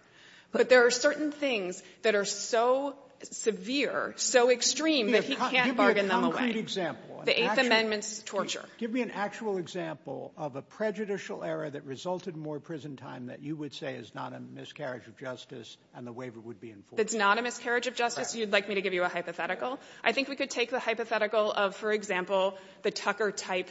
But there are certain things that are so severe, so extreme, that he can't bargain them away. The Eighth Amendment is torture. Give me an actual example of a prejudicial error that resulted in more prison time that you would say is not a miscarriage of justice and the waiver would be enforced. If it's not a miscarriage of justice, you'd like me to give you a hypothetical? I think we could take the hypothetical of, for example, the Tucker type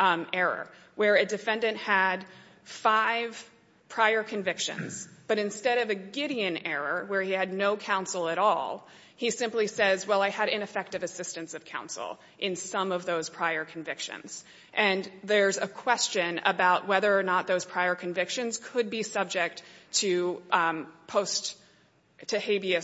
error, where a defendant had five prior convictions, but instead of a Gideon error, where he had no counsel at all, he simply says, well, I had ineffective assistance of counsel in some of those prior convictions. And there's a question about whether or not those prior convictions could be subject to post-Tahabia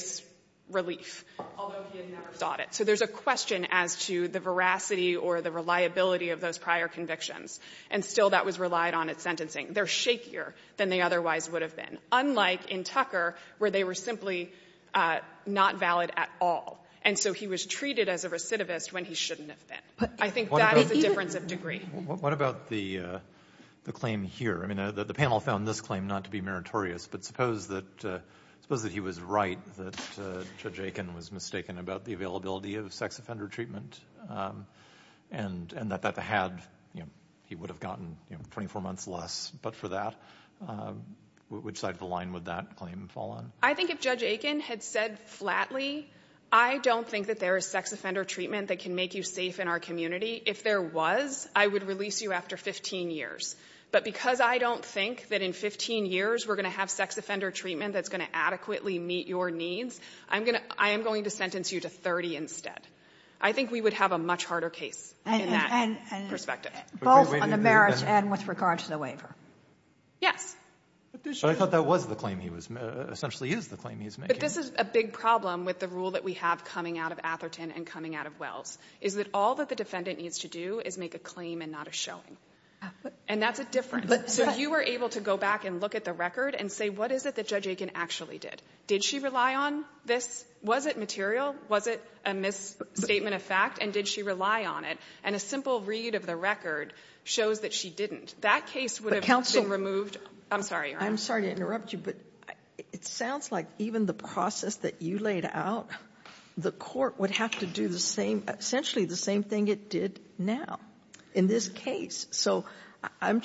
relief, although he had never sought it. So there's a question as to the veracity or the reliability of those prior convictions, and still that was relied on at sentencing. They're shakier than they otherwise would have been, unlike in Tucker, where they were simply not valid at all. And so he was treated as a recidivist when he shouldn't have been. I think that is a difference of degree. What about the claim here? I mean, the panel found this claim not to be meritorious, but suppose that he was right that Judge Aiken was mistaken about the availability of sex offender treatment and that he would have gotten 24 months less. But for that, which side of the line would that claim fall on? I think if Judge Aiken had said flatly, I don't think that there is sex offender treatment that can make you safe in our community. If there was, I would release you after 15 years. But because I don't think that in 15 years we're going to have sex offender treatment that's going to adequately meet your needs, I am going to sentence you to 30 instead. I think we would have a much harder case in that perspective. Both on the merits and with regard to the waiver. Yes. But I thought that was the claim he was, essentially is the claim he was making. But this is a big problem with the rule that we have coming out of Atherton and coming out of Wells, is that all that the defendant needs to do is make a claim and not a showing. And that's a difference. So if you were able to go back and look at the record and say, what is it that Judge Aiken actually did? Did she rely on this? Was it material? Was it a misstatement of fact? And did she rely on it? And a simple read of the record shows that she didn't. That case would have been removed. I'm sorry to interrupt you, but it sounds like even the process that you laid out, the court would have to do essentially the same thing it did now in this case. So I'm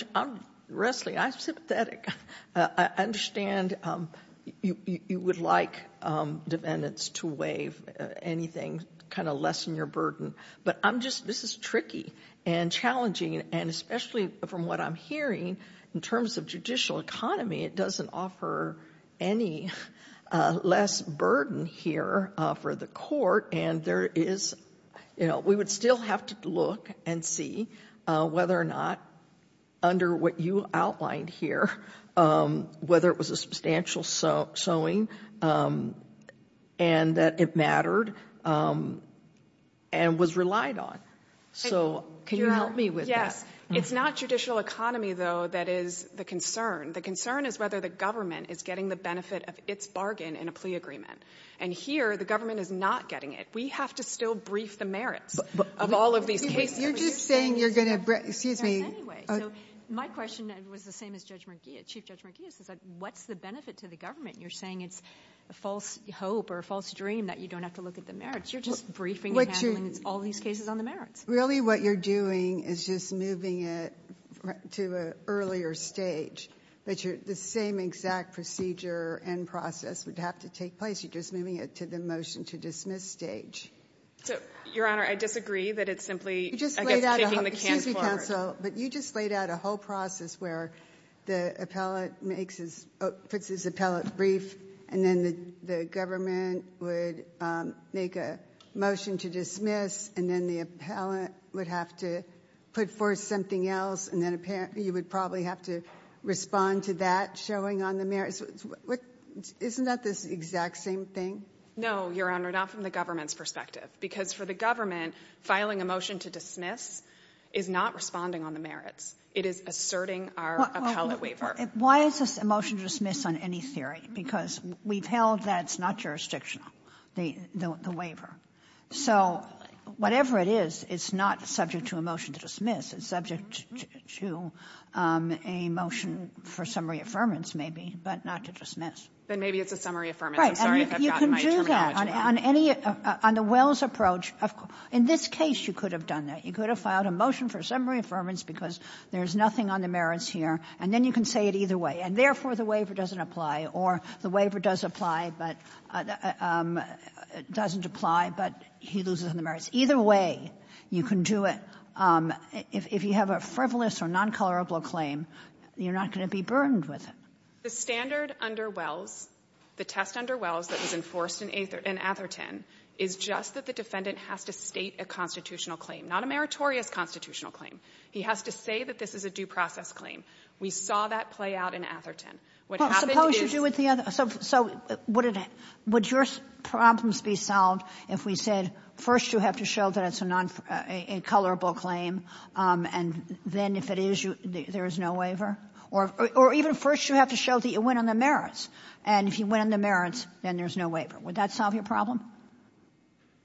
wrestling. I'm sympathetic. I understand you would like defendants to waive anything, kind of lessen your burden. But I'm just, this is tricky and challenging, and especially from what I'm hearing, in terms of judicial economy, it doesn't offer any less burden here for the court. We would still have to look and see whether or not, under what you outlined here, whether it was a substantial showing and that it mattered and was relied on. So can you help me with that? It's not judicial economy, though, that is the concern. The concern is whether the government is getting the benefit of its bargain in a plea agreement. And here, the government is not getting it. We have to still brief the merits of all of these cases. You're just saying you're going to, excuse me. Anyway, my question was the same as Chief Judge Marghia's. What's the benefit to the government? You're saying it's a false hope or a false dream that you don't have to look at the merits. You're just briefing them on all these cases on the merits. Really what you're doing is just moving it to an earlier stage, which the same exact procedure and process would have to take place. You're just moving it to the motion to dismiss stage. Your Honor, I disagree that it's simply taking the cancel. Excuse me, counsel, but you just laid out a whole process where the appellate makes his, puts his appellate brief, and then the government would make a motion to dismiss, and then the appellate would have to put forth something else, and then apparently you would probably have to respond to that showing on the merits. Isn't that the exact same thing? No, Your Honor, not from the government's perspective. Because for the government, filing a motion to dismiss is not responding on the merits. It is asserting our appellate waiver. Why is this a motion to dismiss on any theory? Because we've held that it's not jurisdictional, the waiver. So whatever it is, it's not subject to a motion to dismiss. It's subject to a motion for summary affirmance, maybe, but not to dismiss. Then maybe it's a summary affirmance. Right, and you can do that on any, on the Wells approach. In this case, you could have done that. You could have filed a motion for summary affirmance because there's nothing on the merits here, and then you can say it either way, and therefore the waiver doesn't apply, or the waiver does apply, but it doesn't apply, but he loses on the merits. Either way, you can do it. If you have a frivolous or non-colorable claim, you're not going to be burdened with it. The standard under Wells, the test under Wells that was enforced in Atherton, is just that the defendant has to state a constitutional claim, not a meritorious constitutional claim. He has to say that this is a due process claim. We saw that play out in Atherton. So would your problems be solved if we said first you have to show that it's a non-colorable claim, and then if it is, there's no waiver? Or even first you have to show that you win on the merits, and if you win on the merits, then there's no waiver. Would that solve your problem?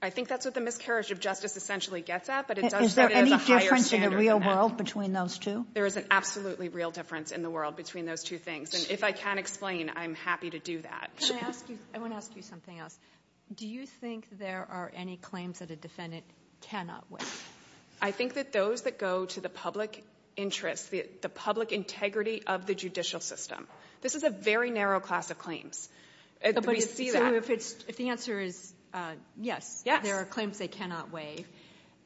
I think that's what the miscarriage of justice essentially gets at, but it does get at a higher standard. Is there any difference in the real world between those two? There is an absolutely real difference in the world between those two things. If I can't explain, I'm happy to do that. I want to ask you something else. Do you think there are any claims that a defendant cannot waive? I think that those that go to the public interest, the public integrity of the judicial system. This is a very narrow class of claims. If the answer is yes, there are claims they cannot waive,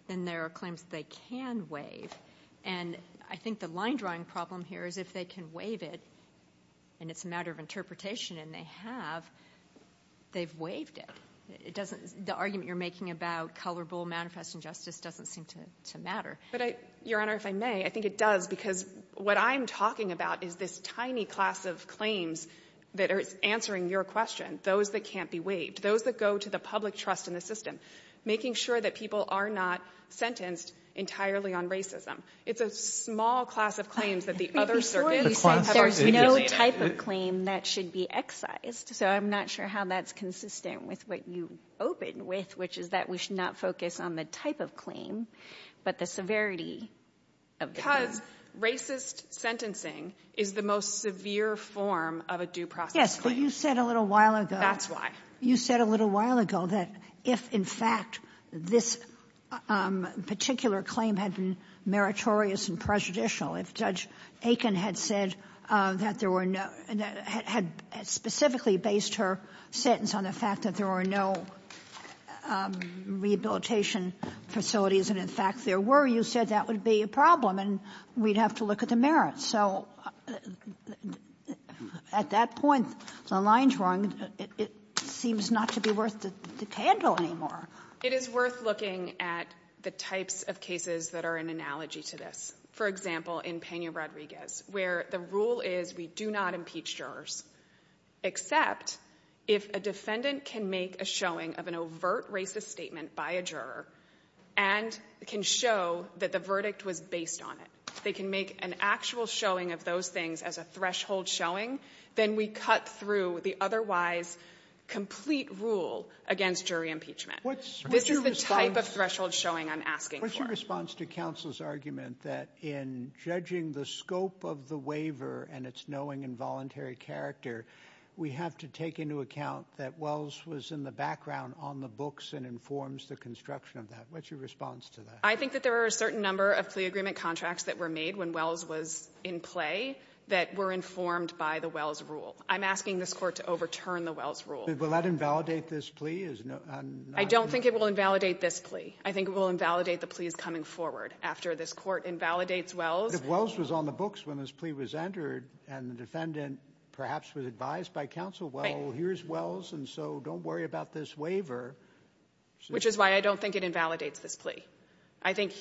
then there are claims they can waive. And I think the line-drawing problem here is if they can waive it, and it's a matter of interpretation, and they have, they've waived it. The argument you're making about colorable manifest injustice doesn't seem to matter. Your Honor, if I may, I think it does, because what I'm talking about is this tiny class of claims that are answering your question, those that can't be waived, those that go to the public trust in the system, making sure that people are not sentenced entirely on racism. It's a small class of claims that the other services have articulated. There's no type of claim that should be excised. So I'm not sure how that's consistent with what you opened with, which is that we should not focus on the type of claim but the severity of the claim. Because racist sentencing is the most severe form of a due process. Yes, but you said a little while ago. That's right. You said a little while ago that if in fact this particular claim had been meritorious and prejudicial, if Judge Aiken had said that there were no, had specifically based her sentence on the fact that there were no rehabilitation facilities, and in fact there were, you said that would be a problem and we'd have to look at the merits. So at that point, the line's wrong. It seems not to be worth the tangle anymore. It is worth looking at the types of cases that are an analogy to this. For example, in Pena-Rodriguez, where the rule is we do not impeach jurors, except if a defendant can make a showing of an overt racist statement by a juror and can show that the verdict was based on it. If they can make an actual showing of those things as a threshold showing, then we cut through the otherwise complete rule against jury impeachment. What's your response? This is the type of threshold showing I'm asking for. What's your response to counsel's argument that in judging the scope of the waiver and its knowing involuntary character, we have to take into account that Wells was in the background on the books and informs the construction of that. What's your response to that? I think that there are a certain number of plea agreement contracts that were made when Wells was in play that were informed by the Wells rule. I'm asking this court to overturn the Wells rule. Will that invalidate this plea? I don't think it will invalidate this plea. I think it will invalidate the pleas coming forward. After this court invalidates Wells. If Wells was on the books when this plea was entered and the defendant perhaps was advised by counsel, well, here's Wells, and so don't worry about this waiver. Which is why I don't think it invalidates this plea. I think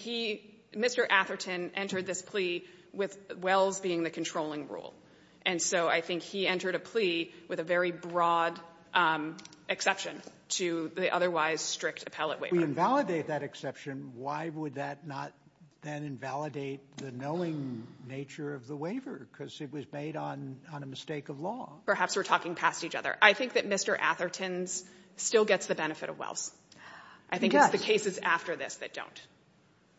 Mr. Atherton entered this plea with Wells being the controlling rule, and so I think he entered a plea with a very broad exception to the otherwise strict appellate waiver. If we invalidate that exception, why would that not then invalidate the knowing nature of the waiver because it was made on a mistake of law? Perhaps we're talking past each other. I think that Mr. Atherton still gets the benefit of Wells. I think it's the cases after this that don't.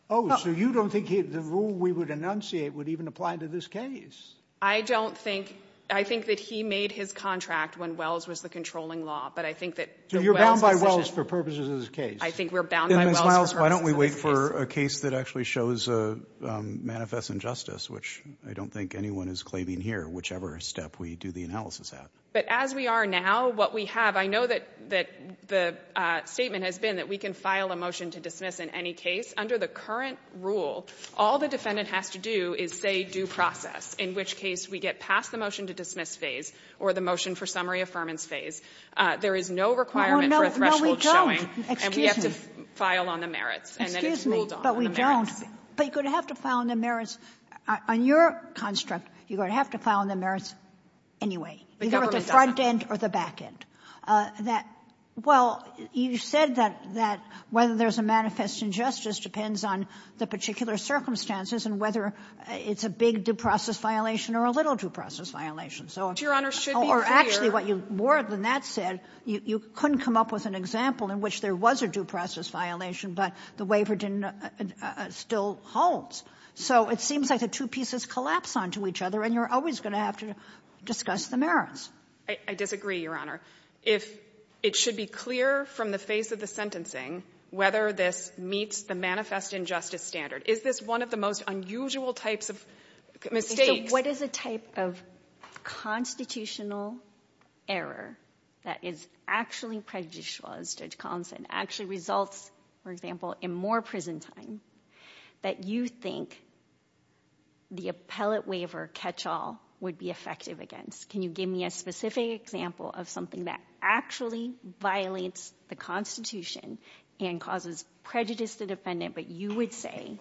Oh, so you don't think the rule we would enunciate would even apply to this case? I don't think. I think that he made his contract when Wells was the controlling law. So you're bound by Wells for purposes of this case? I think we're bound by Wells for purposes of this case. Why don't we wait for a case that actually shows manifest injustice, which I don't think anyone is claiming here, whichever step we do the analysis at. But as we are now, what we have, I know that the statement has been that we can file a motion to dismiss in any case. Under the current rule, all the defendant has to do is say due process, in which case we get past the motion to dismiss phase or the motion for summary affirmance phase. There is no requirement for a threshold showing, and we have to file on the merits. Excuse me, but we don't. But you're going to have to file on the merits. On your construct, you're going to have to file on the merits anyway, either at the front end or the back end. Well, you said that whether there's a manifest injustice depends on the particular circumstances and whether it's a big due process violation or a little due process violation. Your Honor, should be clear. Actually, more than that said, you couldn't come up with an example in which there was a due process violation, but the waiver still holds. So it seems like the two pieces collapse onto each other and you're always going to have to discuss the merits. I disagree, Your Honor. It should be clear from the phase of the sentencing whether this meets the manifest injustice standard. Is this one of the most unusual types of mistakes? What is the type of constitutional error that is actually prejudicial, as Judge Collins said, actually results, for example, in more prison time that you think the appellate waiver catch-all would be effective against? Can you give me a specific example of something that actually violates the Constitution and causes prejudice to the defendant but you would say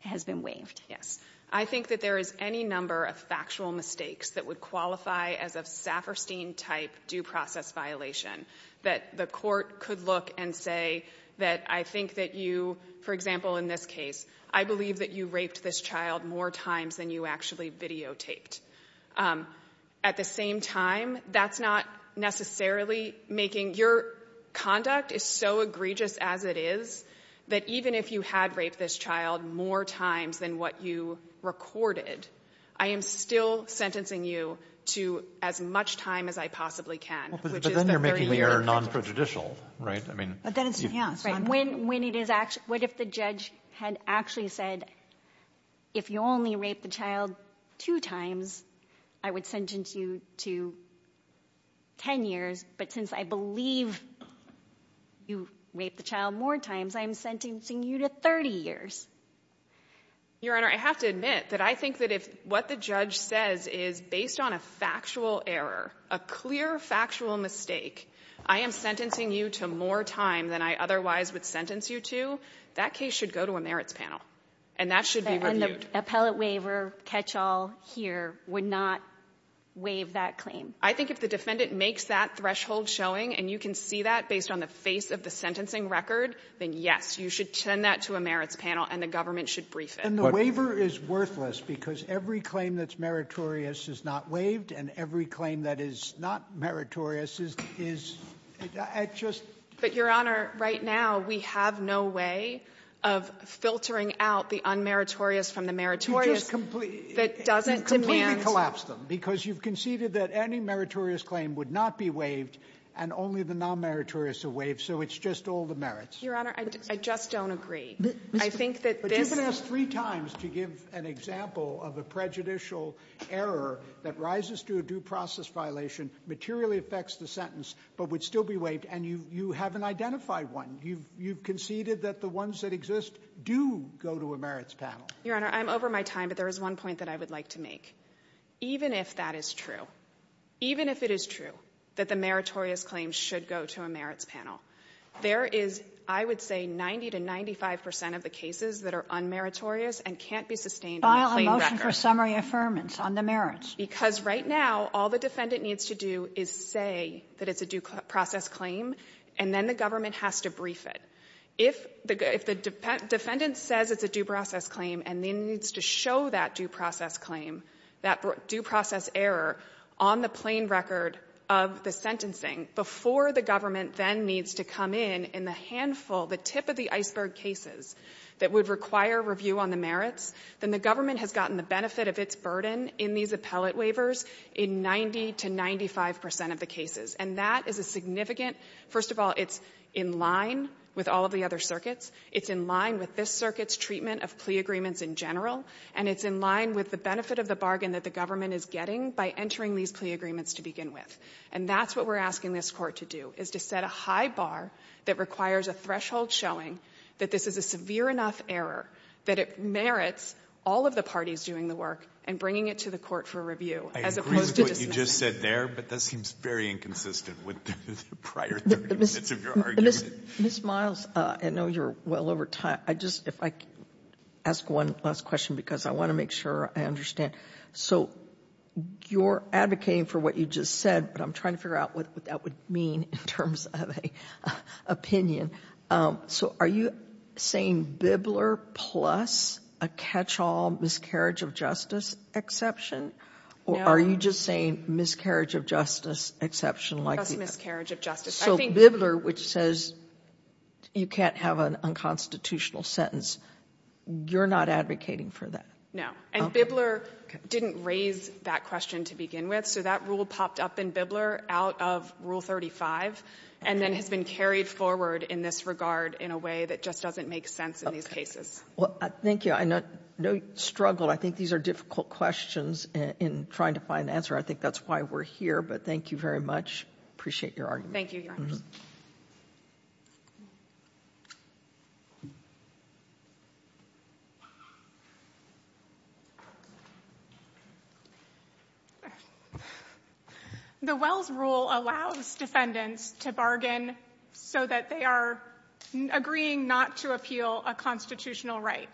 has been waived? Yes. I think that there is any number of factual mistakes that would qualify as a Saperstein-type due process violation that the court could look and say that I think that you, for example, in this case, I believe that you raped this child more times than you actually videotaped. At the same time, that's not necessarily making... Your conduct is so egregious as it is that even if you had raped this child more times than what you recorded, I am still sentencing you to as much time as I possibly can. But then you're making the error non-prejudicial, right? What if the judge had actually said, if you only raped the child two times, I would sentence you to 10 years, but since I believe you raped the child more times, I'm sentencing you to 30 years? Your Honor, I have to admit that I think that if what the judge says is based on a factual error, a clear factual mistake, I am sentencing you to more time than I otherwise would sentence you to, that case should go to a merits panel. And that should be reviewed. And the appellate waiver catch-all here would not waive that claim? I think if the defendant makes that threshold showing and you can see that based on the face of the sentencing record, then yes, you should send that to a merits panel and the government should brief it. And the waiver is worthless because every claim that's meritorious is not waived and every claim that is not meritorious is... I just... But, Your Honor, right now, we have no way of filtering out the unmeritorious from the meritorious that doesn't demand... You've completely collapsed them because you've conceded that any meritorious claim would not be waived and only the non-meritorious are waived, so it's just all the merits. Your Honor, I just don't agree. I think that this... But you've been asked three times to give an example of a prejudicial error that rises to a due process violation, materially affects the sentence, but would still be waived, and you haven't identified one. You've conceded that the ones that exist do go to a merits panel. Your Honor, I'm over my time, but there is one point that I would like to make. Even if that is true, even if it is true that the meritorious claims should go to a merits panel, there is, I would say, 90% to 95% of the cases that are unmeritorious and can't be sustained on a claim record. What are her summary affirmance on the merits? Because right now, all the defendant needs to do is say that it's a due process claim, and then the government has to brief it. If the defendant says it's a due process claim and then needs to show that due process claim, that due process error, on the plain record of the sentencing before the government then needs to come in in the handful, the tip of the iceberg cases that would require review on the merits, then the government has gotten the benefit of its burden in these appellate waivers in 90% to 95% of the cases. And that is a significant... First of all, it's in line with all the other circuits. It's in line with this circuit's treatment of plea agreements in general, and it's in line with the benefit of the bargain that the government is getting by entering these plea agreements to begin with. And that's what we're asking this Court to do, is to set a high bar that requires a threshold showing that this is a severe enough error that it merits all of the parties doing the work and bringing it to the Court for review. I agree with what you just said there, but that seems very inconsistent with prior... Ms. Miles, I know you're well over time. If I could ask one last question, because I want to make sure I understand. So you're advocating for what you just said, but I'm trying to figure out what that would mean in terms of an opinion. So are you saying Bibler plus a catch-all miscarriage of justice exception, or are you just saying miscarriage of justice exception? Just miscarriage of justice. So Bibler, which says you can't have an unconstitutional sentence, you're not advocating for that? No. And Bibler didn't raise that question to begin with, so that rule popped up in Bibler out of Rule 35 and then has been carried forward in this regard in a way that just doesn't make sense in these cases. Thank you. No struggle. I think these are difficult questions in trying to find an answer. I think that's why we're here, but thank you very much. Appreciate your argument. Thank you. The Wells Rule allows defendants to bargain so that they are agreeing not to appeal a constitutional right.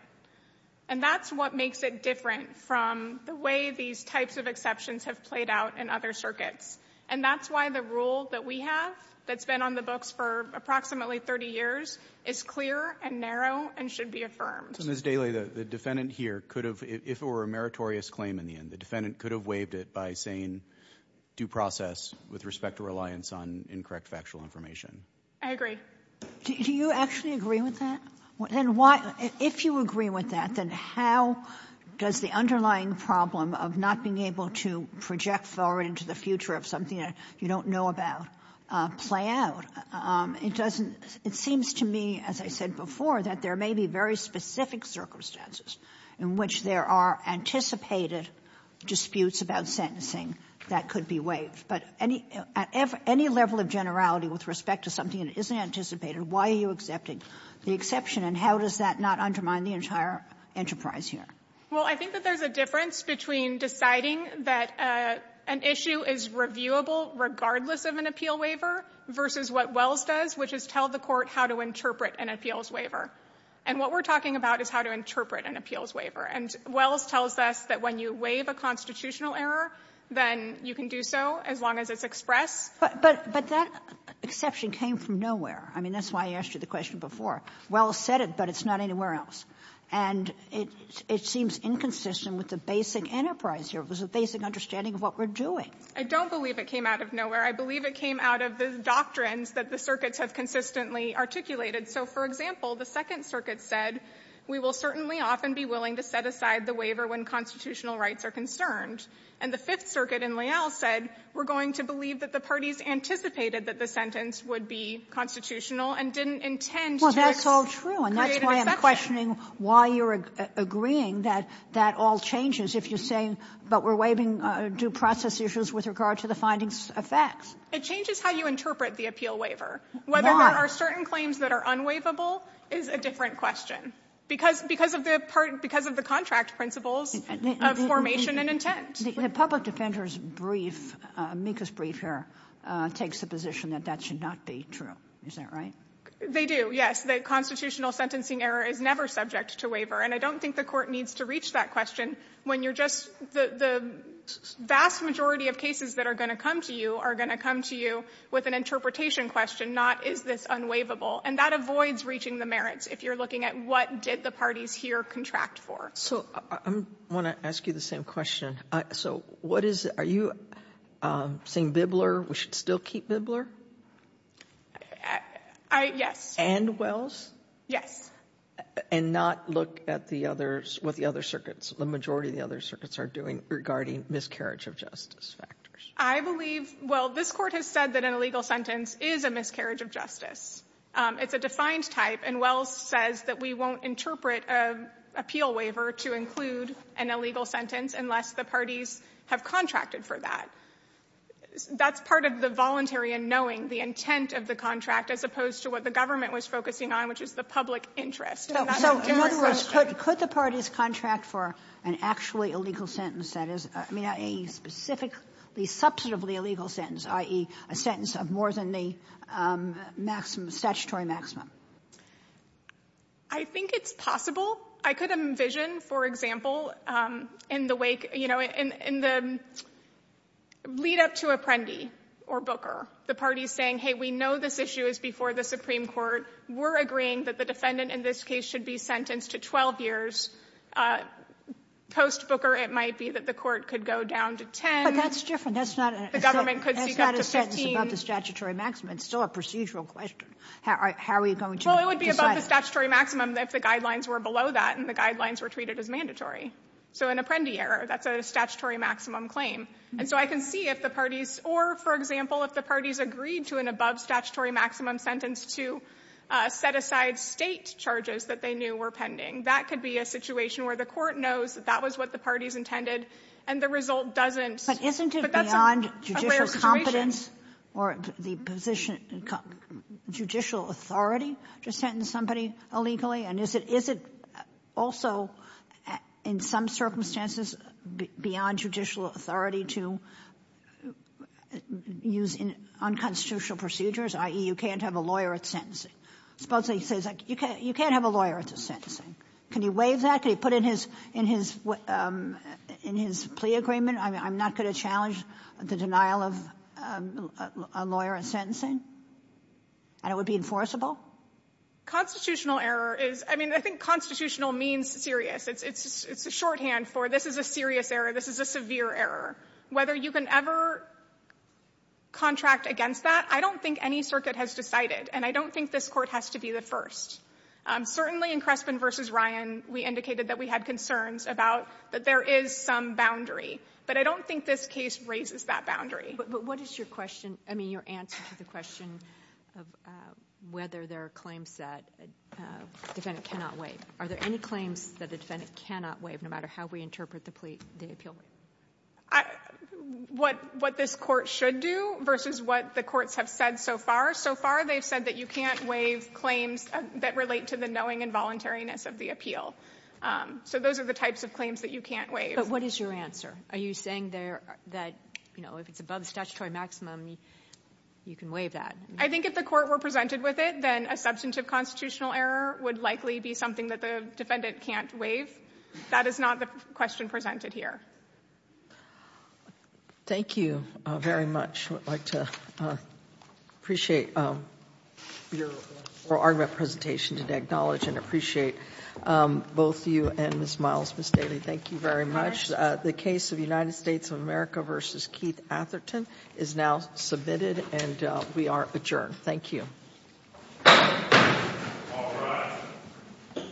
And that's what makes it different from the way these types of exceptions have played out in other circuits. And that's why the rule that we have, that's been on the books for approximately 30 years, is clear and narrow and should be affirmed. Ms. Daley, the defendant here could have, if it were a meritorious claim in the end, the defendant could have waived it by saying due process with respect to reliance on incorrect factual information. I agree. Do you actually agree with that? And if you agree with that, then how does the underlying problem of not being able to project forward into the future of something that you don't know about play out? It seems to me, as I said before, that there may be very specific circumstances in which there are anticipated disputes about sentencing that could be waived. But at any level of generality with respect to something that isn't anticipated, why are you accepting the exception and how does that not undermine the entire enterprise here? Well, I think that there's a difference between deciding that an issue is reviewable regardless of an appeal waiver versus what Wells says, which is tell the court how to interpret an appeals waiver. And what we're talking about is how to interpret an appeals waiver. And Wells tells us that when you waive a constitutional error, then you can do so as long as it's expressed. But that exception came from nowhere. I mean, that's why I asked you the question before. Wells said it, but it's not anywhere else. And it seems inconsistent with the basic enterprise here. It was a basic understanding of what we're doing. I don't believe it came out of nowhere. I believe it came out of the doctrines that the circuits have consistently articulated. So, for example, the Second Circuit said, we will certainly often be willing to set aside the waiver when constitutional rights are concerned. And the Fifth Circuit in Lyell said, we're going to believe that the parties anticipated that the sentence would be constitutional and didn't intend to create an exception. That's all true. And that's why I'm questioning why you're agreeing that that all changes if you're saying, but we're waiving due process issues with regard to the findings of facts. It changes how you interpret the appeal waiver. Why? Whether there are certain claims that are unwaivable is a different question. Because of the contract principles of formation and intent. The public defender's brief, Mika's brief here, takes the position that that should not be true. Is that right? They do, yes. But the constitutional sentencing error is never subject to waiver. And I don't think the court needs to reach that question when you're just, the vast majority of cases that are going to come to you are going to come to you with an interpretation question, not is this unwaivable. And that avoids reaching the merits if you're looking at what did the parties here contract for. So, I want to ask you the same question. So, what is, are you saying Bibler, we should still keep Bibler? I, yes. And Wells? Yes. And not look at the others, what the other circuits, the majority of the other circuits are doing regarding miscarriage of justice factors? I believe, well, this court has said that an illegal sentence is a miscarriage of justice. It's a defined type, and Wells says that we won't interpret an appeal waiver to include an illegal sentence unless the parties have contracted for that. That's part of the voluntary and knowing, the intent of the contract, as opposed to what the government was focusing on, which is the public interest. So, in other words, could the parties contract for an actually illegal sentence that is a specifically, substantively illegal sentence, i.e. a sentence of more than the statutory maximum? I think it's possible. I could envision, for example, in the wake, you know, in the lead up to Apprendi or Booker, the parties saying, hey, we know this issue is before the Supreme Court. We're agreeing that the defendant in this case should be sentenced to 12 years. Post Booker, it might be that the court could go down to 10. But that's different. That's not a sentence about the statutory maximum. It's still a procedural question. How are you going to decide? Well, it would be about the statutory maximum if the guidelines were below that and the guidelines were treated as mandatory. So in Apprendi era, that's a statutory maximum claim. And so I can see if the parties, or for example, if the parties agreed to an above statutory maximum sentence to set aside state charges that they knew were pending, that could be a situation where the court knows that that was what the parties intended and the result doesn't. But isn't it beyond judicial competence or the position, judicial authority to sentence somebody illegally? And is it also, in some circumstances, beyond judicial authority to use unconstitutional procedures, i.e. you can't have a lawyer at sentencing? Suppose he says, you can't have a lawyer at sentencing. Can he waive that? Can he put it in his plea agreement? I'm not going to challenge the denial of a lawyer at sentencing. And it would be enforceable? Constitutional error is, I mean, I think constitutional means serious. It's a shorthand for this. This is a serious error. This is a severe error. Whether you can ever contract against that, I don't think any circuit has decided. And I don't think this court has to be the first. Certainly, in Crespin v. Ryan, we indicated that we had concerns about that there is some boundary. But I don't think this case raises that boundary. But what is your question? I mean, your answer to the question of whether there are claims that the defendant cannot waive. Are there any claims that the defendant cannot waive, no matter how we interpret the appeal? What this court should do versus what the courts have said so far. So far, they said that you can't waive claims that relate to the knowing and voluntariness of the appeal. So those are the types of claims that you can't waive. But what is your answer? Are you saying that if it's above the statutory maximum, you can waive that? I think if the court were presented with it, then a substantive constitutional error would likely be something that the defendant can't waive. That is not the question presented here. Thank you very much. I would like to appreciate your argument presentation today, acknowledge and appreciate both you and Ms. Miles for stating. Thank you very much. The case of the United States of America versus Keith Atherton is now submitted. And we are adjourned. Thank you. All rise.